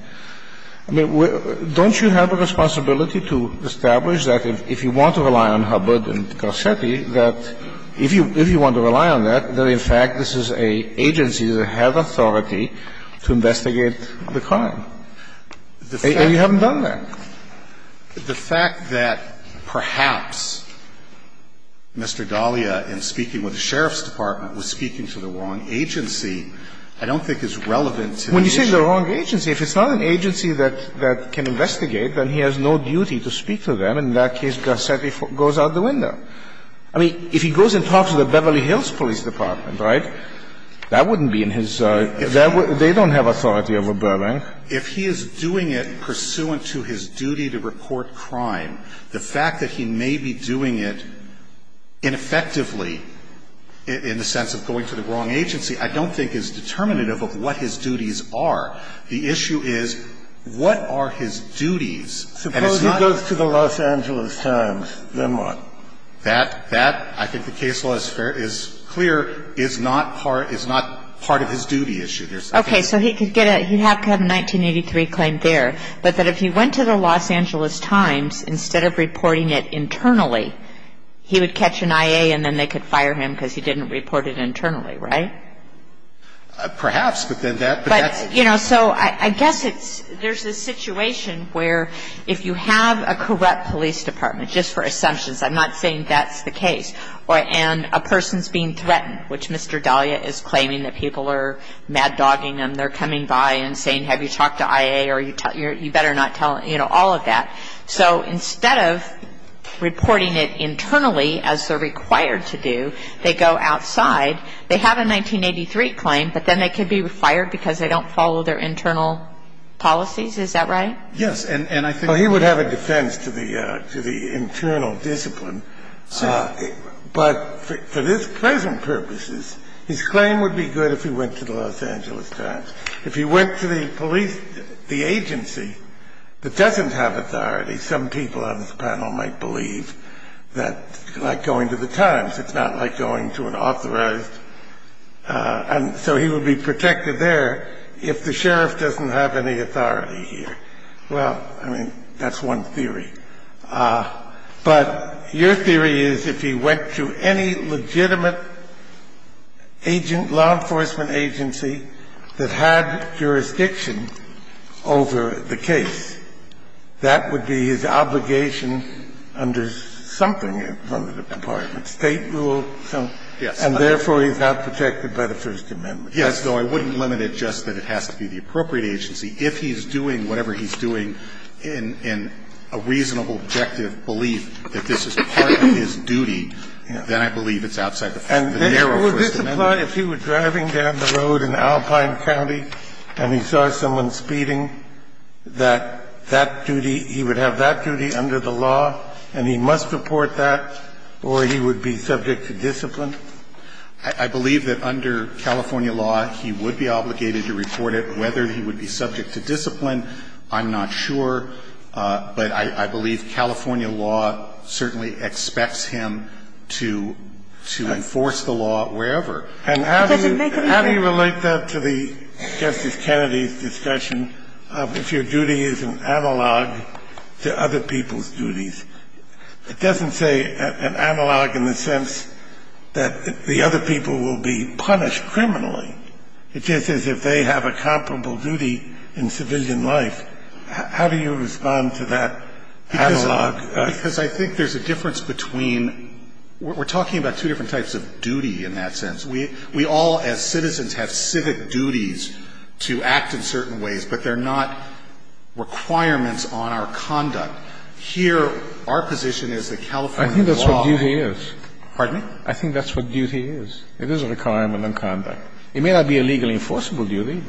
I mean, don't you have a responsibility to establish that if you want to rely on Hubbard and Garcetti, that if you want to rely on that, that in fact this is an agency that has authority to investigate the crime? And you haven't done that. The fact that perhaps Mr. Dahlia, in speaking with the sheriff's department, was speaking to the wrong agency, I don't think is relevant to the issue. When you say the wrong agency, if it's not an agency that can investigate, then he has no duty to speak to them. In that case, Garcetti goes out the window. I mean, if he goes and talks to the Beverly Hills Police Department, right, that wouldn't be in his – they don't have authority over Burbank. If he is doing it pursuant to his duty to report crime, the fact that he may be doing it ineffectively in the sense of going to the wrong agency, I don't think is determinative of what his duties are. The issue is what are his duties, and it's not – Suppose he goes to the Los Angeles Times, then what? That – that, I think the case law is clear, is not part of his duty issue. Okay. So he could get a – he'd have to have a 1983 claim there, but that if he went to the Los Angeles Times, instead of reporting it internally, he would catch an IA and then they could fire him because he didn't report it internally, right? Perhaps, but then that – But, you know, so I guess it's – there's this situation where if you have a correct police department, just for assumptions, I'm not saying that's the case, and a person's being threatened, which Mr. Dahlia is claiming that people are mad-dogging him, they're coming by and saying, have you talked to IA, or you better not tell him, you know, all of that. So instead of reporting it internally, as they're required to do, they go outside. They have a 1983 claim, but then they could be fired because they don't follow their internal policies, is that right? Yes. And I think the other – Well, he would have a defense to the – to the internal discipline. But for this present purposes, his claim would be good if he went to the Los Angeles Times. If he went to the police – the agency that doesn't have authority, some people on this panel might believe that, like going to the Times, it's not like going to an authorized – and so he would be protected there if the sheriff doesn't have any authority here. Well, I mean, that's one theory. But your theory is if he went to any legitimate agent, law enforcement agency that had jurisdiction over the case, that would be his obligation under something under the Department of State rule, and therefore he's not protected by the First Amendment. Yes. So I wouldn't limit it just that it has to be the appropriate agency. If he's doing whatever he's doing in a reasonable, objective belief that this is part of his duty, then I believe it's outside the narrow First Amendment. And would this apply if he were driving down the road in Alpine County and he saw someone speeding, that that duty, he would have that duty under the law and he must report that, or he would be subject to discipline? I believe that under California law, he would be obligated to report it, whether he would be subject to discipline, I'm not sure. But I believe California law certainly expects him to enforce the law wherever. And how do you relate that to the Justice Kennedy's discussion of if your duty is an analog to other people's duties? It doesn't say an analog in the sense that the other people will be punished criminally. It's just as if they have a comparable duty in civilian life. How do you respond to that analog? Because I think there's a difference between we're talking about two different types of duty in that sense. We all, as citizens, have civic duties to act in certain ways, but they're not requirements on our conduct. Here, our position is that California law. I think that's what duty is. Pardon me? I think that's what duty is. It is a requirement on conduct. It may not be a legally enforceable duty,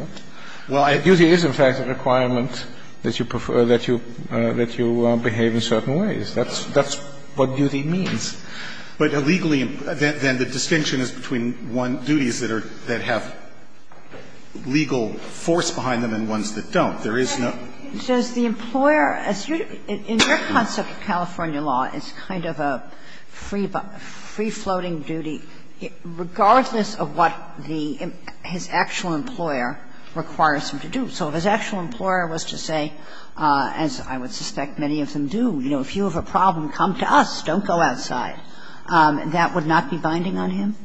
but duty is, in fact, a requirement that you prefer, that you behave in certain ways. That's what duty means. But a legally – then the distinction is between duties that are – that have legal force behind them and ones that don't. There is no – But does the employer, as you – in your concept of California law, it's kind of a free floating duty, regardless of what the – his actual employer requires him to do. So if his actual employer was to say, as I would suspect many of them do, you know, if you have a problem, come to us, don't go outside, that would not be binding on him?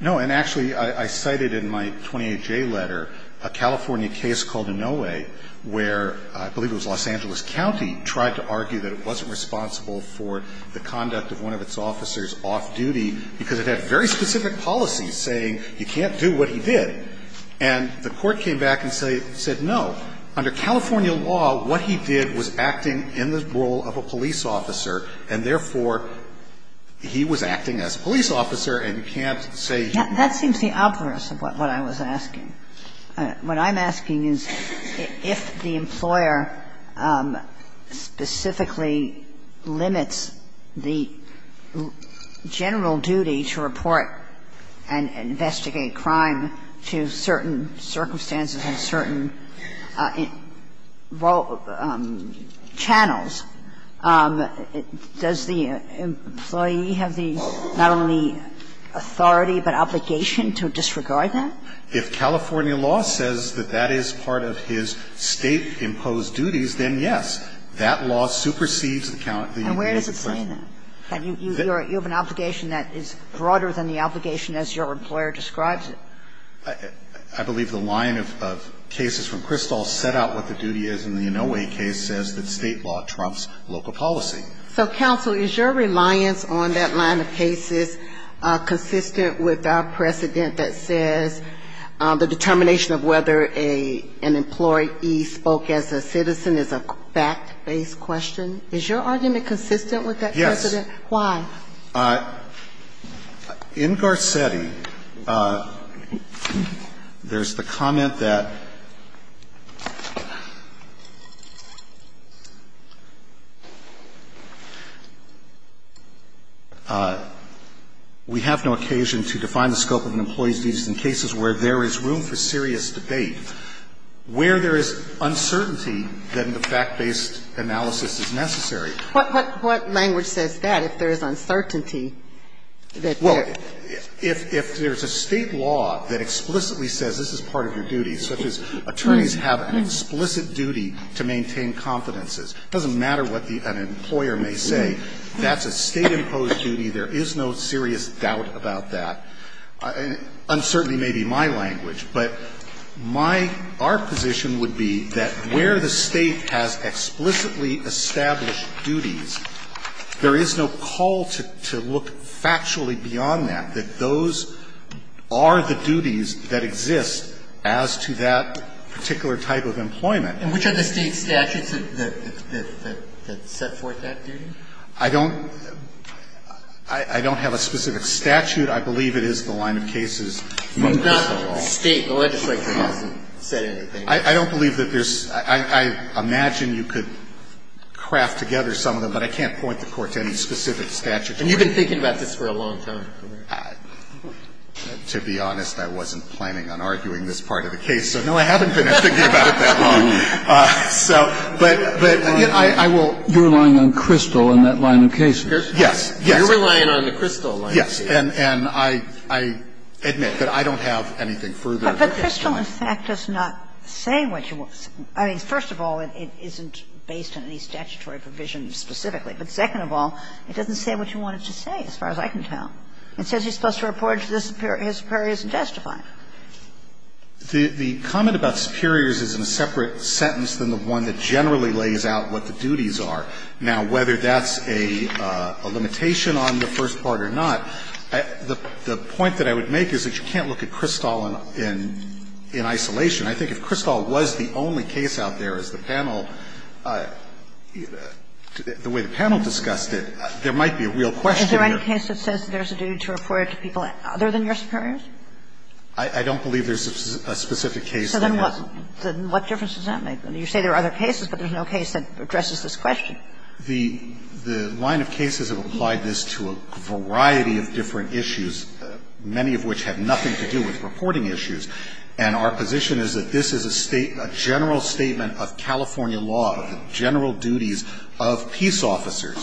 No. And actually, I cited in my 28J letter a California case called Inouye, where I believe it was Los Angeles County, tried to argue that it wasn't responsible for the conduct of one of its officers off-duty because it had very specific policies saying you can't do what he did. And the Court came back and said, no, under California law, what he did was acting in the role of a police officer, and therefore, he was acting as a police officer and can't say he's not. That seems the obverse of what I was asking. What I'm asking is, if the employer specifically limits the general duty to report and investigate crime to certain circumstances and certain channels, does the employee have the not only authority but obligation to disregard that? If California law says that that is part of his State-imposed duties, then yes, that law supersedes the county's duty. And where does it say that? You have an obligation that is broader than the obligation as your employer describes it. I believe the line of cases from Kristol set out what the duty is, and the Inouye case says that State law trumps local policy. So, counsel, is your reliance on that line of cases consistent with our precedent that says the determination of whether an employee spoke as a citizen is a fact-based question? Is your argument consistent with that precedent? Why? In Garcetti, there's the comment that we have no occasion to define the scope of an employee's duties in cases where there is room for serious debate. Where there is uncertainty, then the fact-based analysis is necessary. What language says that, if there is uncertainty? Well, if there's a State law that explicitly says this is part of your duty, such as attorneys have an explicit duty to maintain confidences, it doesn't matter what an employer may say. That's a State-imposed duty. There is no serious doubt about that. Uncertainty may be my language, but my art position would be that where the State has explicitly established duties, there is no call to look factually beyond that, that those are the duties that exist as to that particular type of employment. And which are the State statutes that set forth that duty? I don't – I don't have a specific statute. I believe it is the line of cases from Crystal Law. The State legislature hasn't said anything. I don't believe that there's – I imagine you could craft together some of them, but I can't point the Court to any specific statute. And you've been thinking about this for a long time. To be honest, I wasn't planning on arguing this part of the case, so no, I haven't been thinking about it that long. So, but I will – You're relying on Crystal and that line of cases. Yes. You're relying on the Crystal line of cases. Yes. And I admit that I don't have anything further. But Crystal, in fact, does not say what you want – I mean, first of all, it isn't based on any statutory provision specifically. But second of all, it doesn't say what you want it to say, as far as I can tell. It says you're supposed to report it to the superiors and justify it. The comment about superiors is in a separate sentence than the one that generally lays out what the duties are. Now, whether that's a limitation on the first part or not, the point that I would make is that you can't look at Crystal in isolation. I think if Crystal was the only case out there, as the panel – the way the panel discussed it, there might be a real question there. Is there any case that says there's a duty to report it to people other than your superiors? I don't believe there's a specific case. So then what difference does that make? You say there are other cases, but there's no case that addresses this question. The line of cases have applied this to a variety of different issues, many of which have nothing to do with reporting issues. And our position is that this is a general statement of California law, of the general duties of peace officers.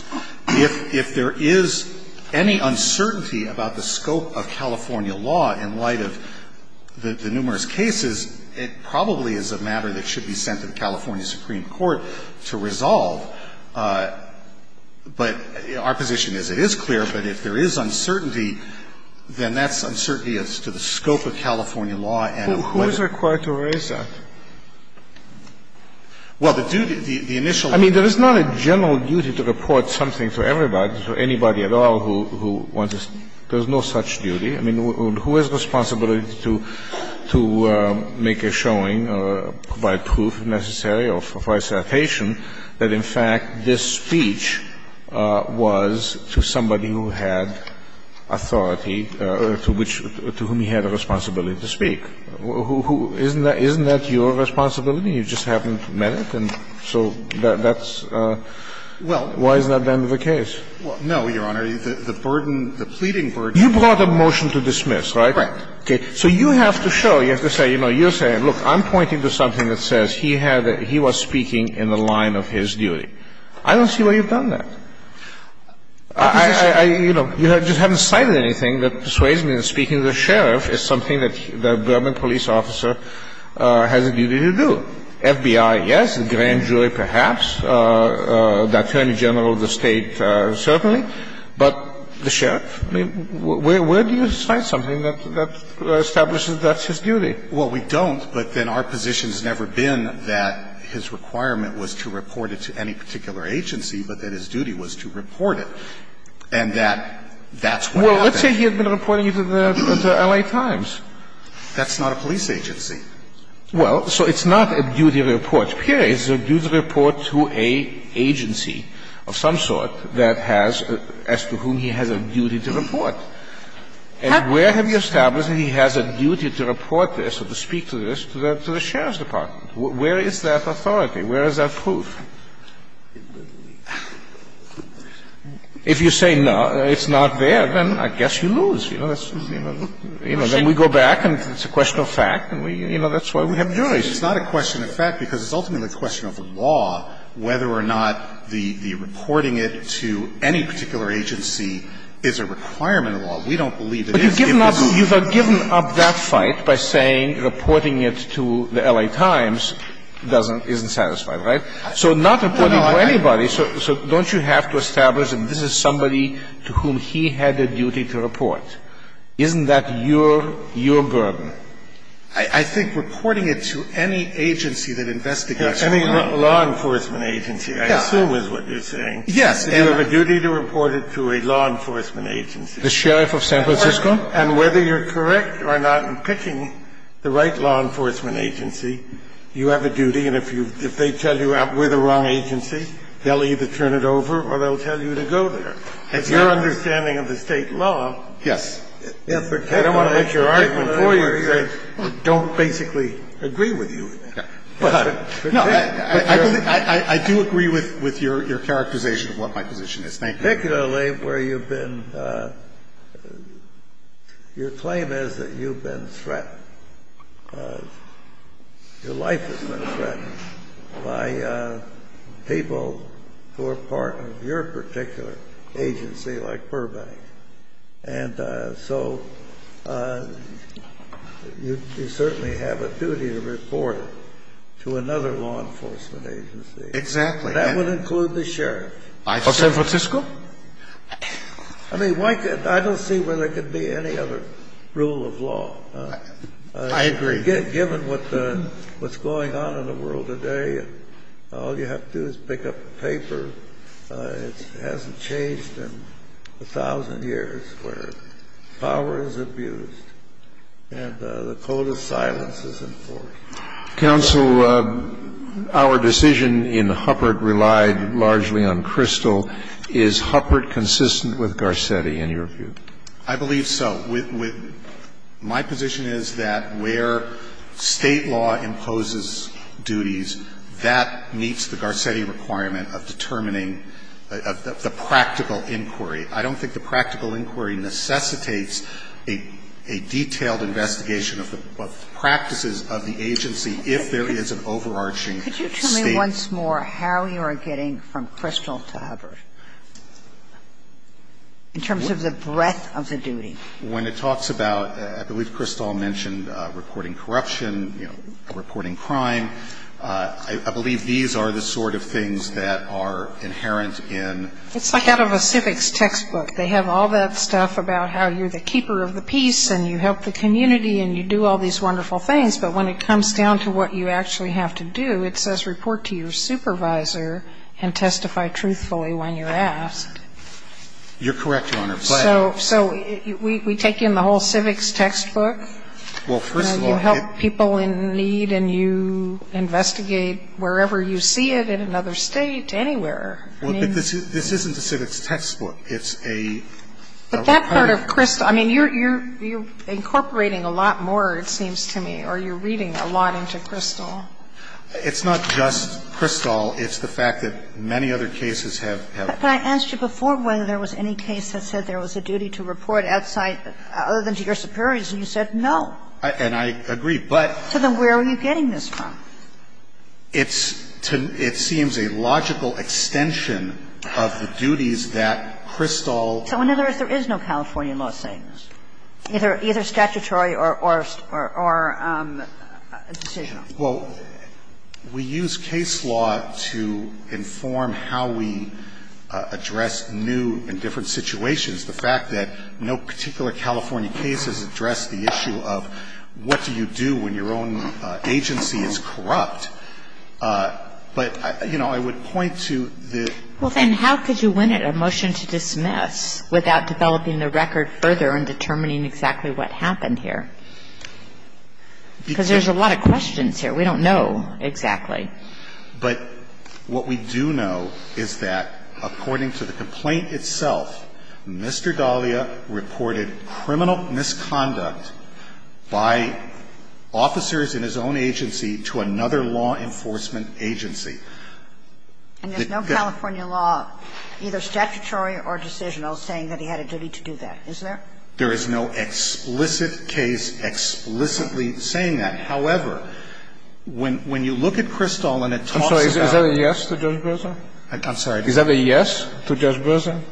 If there is any uncertainty about the scope of California law in light of the numerous cases, it probably is a matter that should be sent to the California Supreme Court to resolve. But our position is it is clear, but if there is uncertainty, then that's uncertainty as to the scope of California law and whether to raise that. Who is required to raise that? Well, the duty, the initial – I mean, there is not a general duty to report something to everybody, to anybody at all who wants to – there's no such duty. I mean, who has responsibility to make a showing or provide proof, if necessary? Or for a citation, that, in fact, this speech was to somebody who had authority to which – to whom he had a responsibility to speak? Who – isn't that your responsibility? You just haven't met it, and so that's – why isn't that the end of the case? No, Your Honor. The burden, the pleading burden – You brought a motion to dismiss, right? Right. Okay. So you have to show, you have to say, you know, you're saying, look, I'm pointing to something that says he had a – he was speaking in the line of his duty. I don't see why you've done that. I – you know, you just haven't cited anything that persuades me that speaking to the sheriff is something that the Burma police officer has a duty to do. FBI, yes, the grand jury, perhaps, the attorney general of the State, certainly. But the sheriff? I mean, where do you cite something that establishes that's his duty? Well, we don't, but then our position has never been that his requirement was to report it to any particular agency, but that his duty was to report it, and that that's what happened. Well, let's say he had been reporting it to the L.A. Times. That's not a police agency. Well, so it's not a duty to report, period. It's a duty to report to an agency of some sort that has – as to whom he has a duty to report. And where have you established that he has a duty to report this or to speak to this to the sheriff's department? Where is that authority? Where is that proof? If you say no, it's not there, then I guess you lose. You know, then we go back and it's a question of fact, and we – you know, that's why we have juries. It's not a question of fact, because it's ultimately a question of the law whether or not the reporting it to any particular agency is a requirement of the law. We don't believe it is, given the law. But you've given up that fight by saying reporting it to the L.A. Times doesn't – isn't satisfying, right? So not reporting to anybody. So don't you have to establish that this is somebody to whom he had a duty to report? Isn't that your – your burden? I think reporting it to any agency that investigates a crime. Kennedy, you have a duty to report it to any law enforcement agency, I assume is what you're saying. Yes. You have a duty to report it to a law enforcement agency. The sheriff of San Francisco? And whether you're correct or not in picking the right law enforcement agency, you have a duty. And if you – if they tell you we're the wrong agency, they'll either turn it over or they'll tell you to go there. It's your understanding of the State law. Yes. I don't want to make your argument for you because I don't basically agree with you. But I do agree with your characterization of what my position is. Thank you. Particularly where you've been – your claim is that you've been threatened. Your life has been threatened by people who are part of your particular agency like Burbank. And so you certainly have a duty to report it to another law enforcement agency. Exactly. That would include the sheriff. Of San Francisco? I mean, I don't see where there could be any other rule of law. I agree. Given what's going on in the world today, all you have to do is pick up the paper. It hasn't changed in 1,000 years where power is abused and the code of silence is enforced. Counsel, our decision in Huppert relied largely on Crystal. Is Huppert consistent with Garcetti, in your view? I believe so. My position is that where State law imposes duties, that meets the Garcetti requirement of determining the practical inquiry. I don't think the practical inquiry necessitates a detailed investigation of the practices of the agency if there is an overarching State. Could you tell me once more how you are getting from Crystal to Huppert in terms of the breadth of the duty? When it talks about – I believe Crystal mentioned reporting corruption, you know, reporting crime. I believe these are the sort of things that are inherent in – It's like out of a civics textbook. They have all that stuff about how you're the keeper of the peace and you help the community and you do all these wonderful things. But when it comes down to what you actually have to do, it says report to your supervisor and testify truthfully when you're asked. You're correct, Your Honor. But – So we take in the whole civics textbook? Well, first of all – You help people in need and you investigate wherever you see it, in another State, I mean – Well, but this isn't a civics textbook. It's a – But that part of Crystal – I mean, you're incorporating a lot more, it seems to me, or you're reading a lot into Crystal. It's not just Crystal. It's the fact that many other cases have – But I asked you before whether there was any case that said there was a duty to report outside, other than to your superiors, and you said no. And I agree, but – So then where are you getting this from? It's – it seems a logical extension of the duties that Crystal – So in other words, there is no California law saying this? Either statutory or – or decisional? Well, we use case law to inform how we address new and different situations. The fact that no particular California case has addressed the issue of what do you do when your own agency is corrupt. But, you know, I would point to the – Well, then how could you win a motion to dismiss without developing the record further and determining exactly what happened here? Because there's a lot of questions here. We don't know exactly. But what we do know is that, according to the complaint itself, Mr. Dahlia reported criminal misconduct by officers in his own agency to another law enforcement agency. And there's no California law, either statutory or decisional, saying that he had a duty to do that, is there? There is no explicit case explicitly saying that. However, when you look at Crystal and it talks about – I'm sorry. Is that a yes to Judge Breslin? I'm sorry. Is that a yes to Judge Breslin?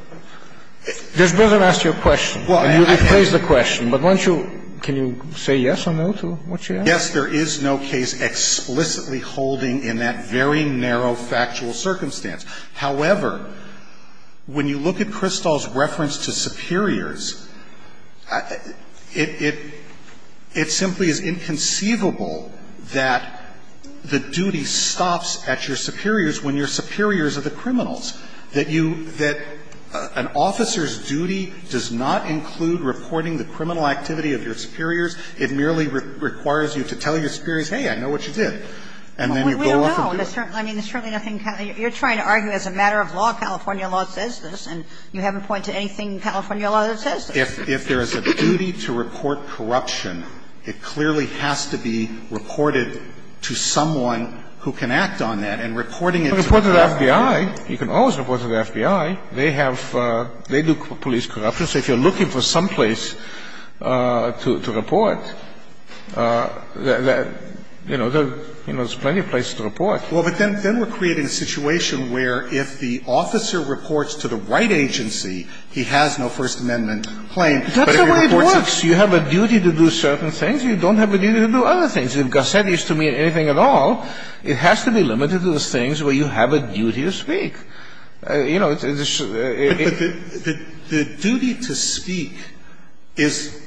Judge Breslin asked you a question, and you replaced the question. But once you – can you say yes or no to what she asked? Yes, there is no case explicitly holding in that very narrow factual circumstance. However, when you look at Crystal's reference to superiors, it simply is inconceivable that the duty stops at your superiors when your superiors are the criminals. That you – that an officer's duty does not include reporting the criminal activity of your superiors. It merely requires you to tell your superiors, hey, I know what you did. And then you go off and do it. We don't know. I mean, there's certainly nothing – you're trying to argue as a matter of law. California law says this. And you haven't pointed to anything in California law that says this. If there is a duty to report corruption, it clearly has to be reported to someone who can act on that. And reporting it to the FBI – You can report to the FBI. You can always report to the FBI. They have – they do police corruption. So if you're looking for someplace to report, you know, there's plenty of places to report. Well, but then we're creating a situation where if the officer reports to the right agency, he has no First Amendment claim. That's the way it works. You have a duty to do certain things. You don't have a duty to do other things. If Gossett is to mean anything at all, it has to be limited to the things where you have a duty to speak. You know, it's – But the duty to speak is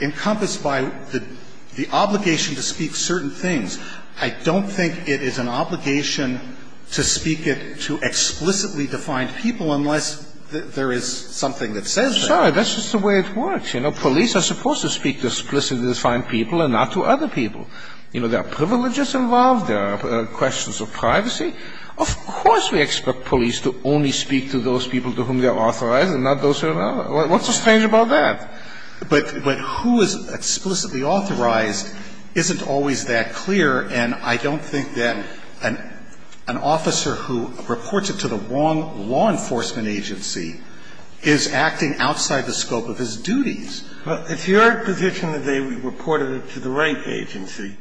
encompassed by the obligation to speak certain things. I don't think it is an obligation to speak it to explicitly defined people unless there is something that says that. I'm sorry. That's just the way it works. You know, police are supposed to speak to explicitly defined people and not to other people. You know, there are privileges involved. There are questions of privacy. Of course we expect police to only speak to those people to whom they are authorized and not those who are not. What's so strange about that? But who is explicitly authorized isn't always that clear. And I don't think that an officer who reports it to the wrong law enforcement agency is acting outside the scope of his duties. Well, it's your position that they reported it to the right agency.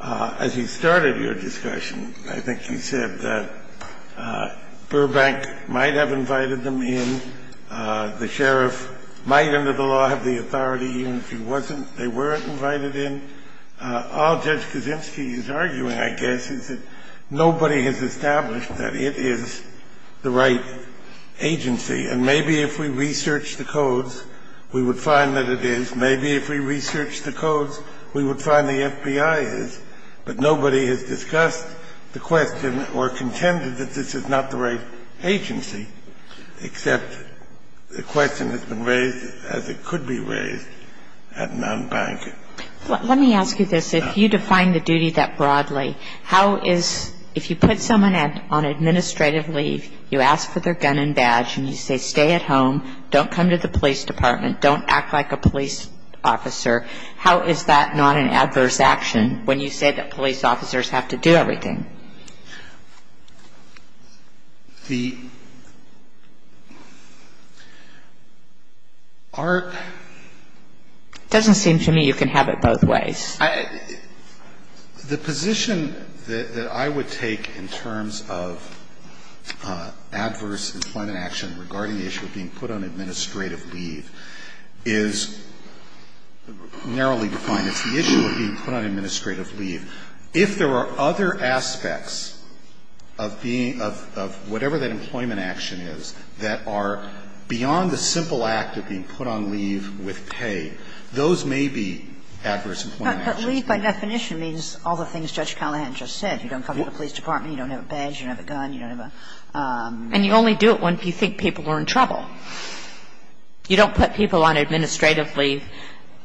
As you started your discussion, I think you said that Burbank might have invited them in. The sheriff might under the law have the authority, even if he wasn't, they weren't invited in. I think all Judge Kaczynski is arguing, I guess, is that nobody has established that it is the right agency. And maybe if we researched the codes, we would find that it is. Maybe if we researched the codes, we would find the FBI is. But nobody has discussed the question or contended that this is not the right agency except the question has been raised as it could be raised at Mountbank. Let me ask you this. If you define the duty that broadly, how is, if you put someone on administrative leave, you ask for their gun and badge, and you say stay at home, don't come to the police department, don't act like a police officer, how is that not an adverse action when you say that police officers have to do everything? The art... The position that I would take in terms of adverse employment action regarding the issue of being put on administrative leave is narrowly defined as the issue of being put on administrative leave. If there are other aspects of being, of whatever that employment action is, that are beyond the simple act of being put on leave with pay, those may be, those may be adverse employment actions. But leave by definition means all the things Judge Callahan just said. You don't come to the police department. You don't have a badge. You don't have a gun. You don't have a... And you only do it when you think people are in trouble. You don't put people on administrative leave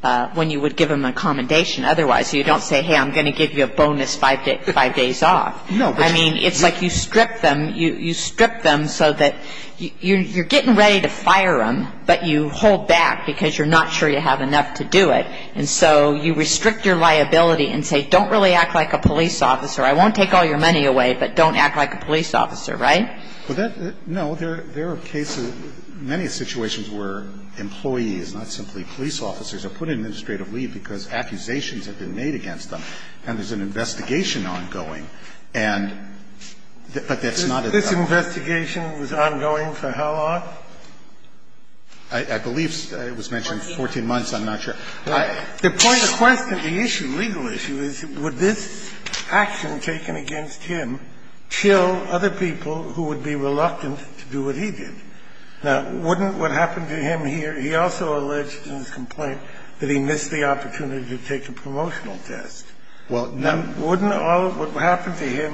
when you would give them a commendation. Otherwise, you don't say, hey, I'm going to give you a bonus five days off. No. I mean, it's like you strip them, you strip them so that you're getting ready to fire them, but you hold back because you're not sure you have enough to do it. And so you restrict your liability and say, don't really act like a police officer. I won't take all your money away, but don't act like a police officer. Right? Well, that no. There are cases, many situations where employees, not simply police officers, are put on administrative leave because accusations have been made against them, and there's an investigation ongoing. And, but that's not a... This investigation was ongoing for how long? I believe it was mentioned 14 months. I'm not sure. The point of question, the issue, legal issue, is would this action taken against him chill other people who would be reluctant to do what he did? Now, wouldn't what happened to him here? He also alleged in his complaint that he missed the opportunity to take a promotional test. Well, now... Wouldn't all of what happened to him,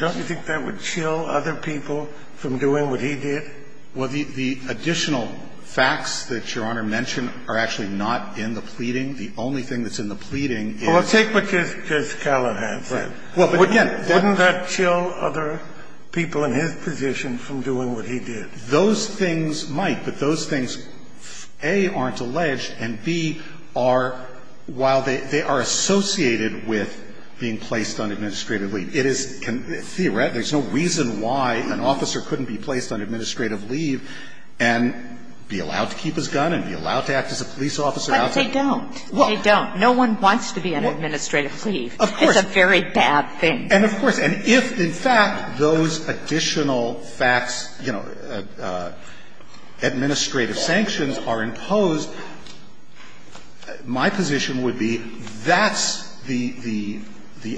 don't you think that would chill other people from doing what he did? Well, the additional facts that Your Honor mentioned are actually not in the pleading. The only thing that's in the pleading is... Well, take what Ms. Callahan said. Well, again... Wouldn't that chill other people in his position from doing what he did? Those things might, but those things, A, aren't alleged, and, B, are while they are associated with being placed on administrative leave. It is, theoretically, there's no reason why an officer couldn't be placed on administrative leave and be allowed to keep his gun and be allowed to act as a police officer outside... But they don't. They don't. No one wants to be on administrative leave. Of course. It's a very bad thing. And of course. And if, in fact, those additional facts, you know, administrative sanctions are imposed, my position would be that's the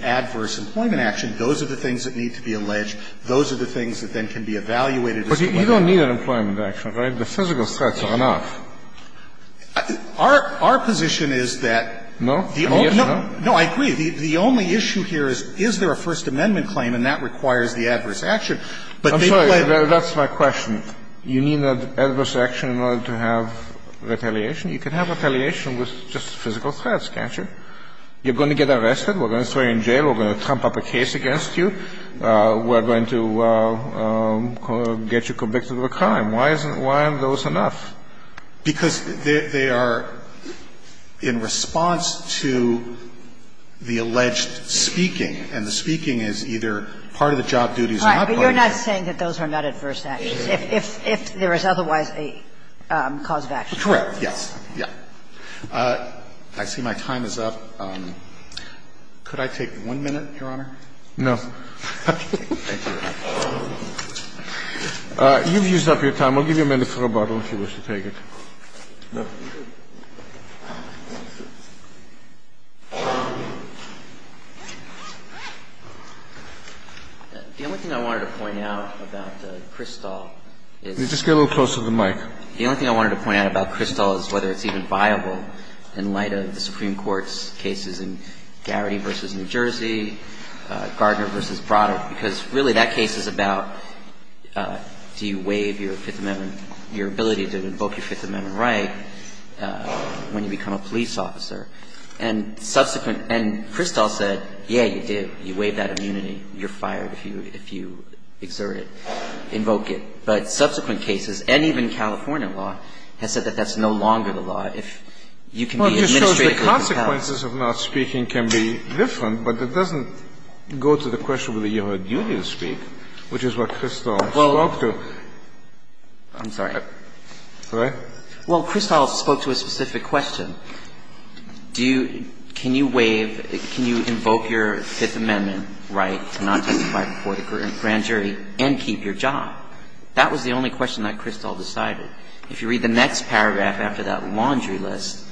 adverse employment action. Those are the things that need to be alleged. Those are the things that then can be evaluated as to whether... But you don't need an employment action, right? The physical threats are enough. Our position is that... No? No, I agree. The only issue here is, is there a First Amendment claim, and that requires the adverse action. I'm sorry. That's my question. You need an adverse action in order to have retaliation. You can have retaliation with just physical threats, can't you? You're going to get arrested. We're going to throw you in jail. We're going to trump up a case against you. We're going to get you convicted of a crime. Why isn't one of those enough? Because they are in response to the alleged speaking. And the speaking is either part of the job duties... But you're not saying that those are not adverse actions, if there is otherwise a cause of action? Correct. Yes. Yes. I see my time is up. Could I take one minute, Your Honor? No. Thank you. You've used up your time. I'll give you a minute for rebuttal if you wish to take it. The only thing I wanted to point out about Kristall is... Could you just get a little closer to the mic? The only thing I wanted to point out about Kristall is whether it's even viable in light of the Supreme Court's cases in Garrity v. New Jersey, Gardner v. Broderick, because really that case is about do you waive your Fifth Amendment, your ability to invoke your Fifth Amendment right when you become a police officer? And subsequent – and Kristall said, yeah, you do. You waive that immunity. You're fired if you exert it, invoke it. But subsequent cases, and even California law, has said that that's no longer the If you can be administratively compelled... Well, it just shows the consequences of not speaking can be different, but it doesn't go to the question whether you have a duty to speak, which is what Kristall spoke Well, I'm sorry. Well, Kristall spoke to a specific question. Do you – can you waive – can you invoke your Fifth Amendment right to not testify before the grand jury and keep your job? That was the only question that Kristall decided. If you read the next paragraph after that laundry list,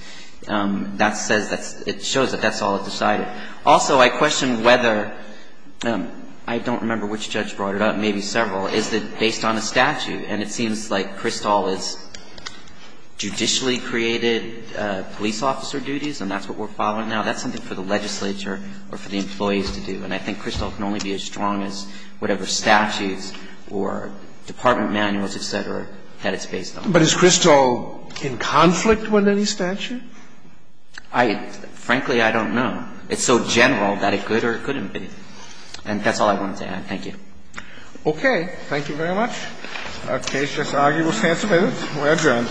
that says that's – it shows that that's all it decided. Also, I question whether – I don't remember which judge brought it up, maybe several is that based on a statute, and it seems like Kristall has judicially created police officer duties, and that's what we're following now. That's something for the legislature or for the employees to do. And I think Kristall can only be as strong as whatever statutes or department manuals, et cetera, that it's based on. But is Kristall in conflict with any statute? I – frankly, I don't know. It's so general that it could or couldn't be. And that's all I wanted to add. Thank you. Okay. Thank you very much. Our case just argued. We'll stand submitted. We're adjourned. All rise.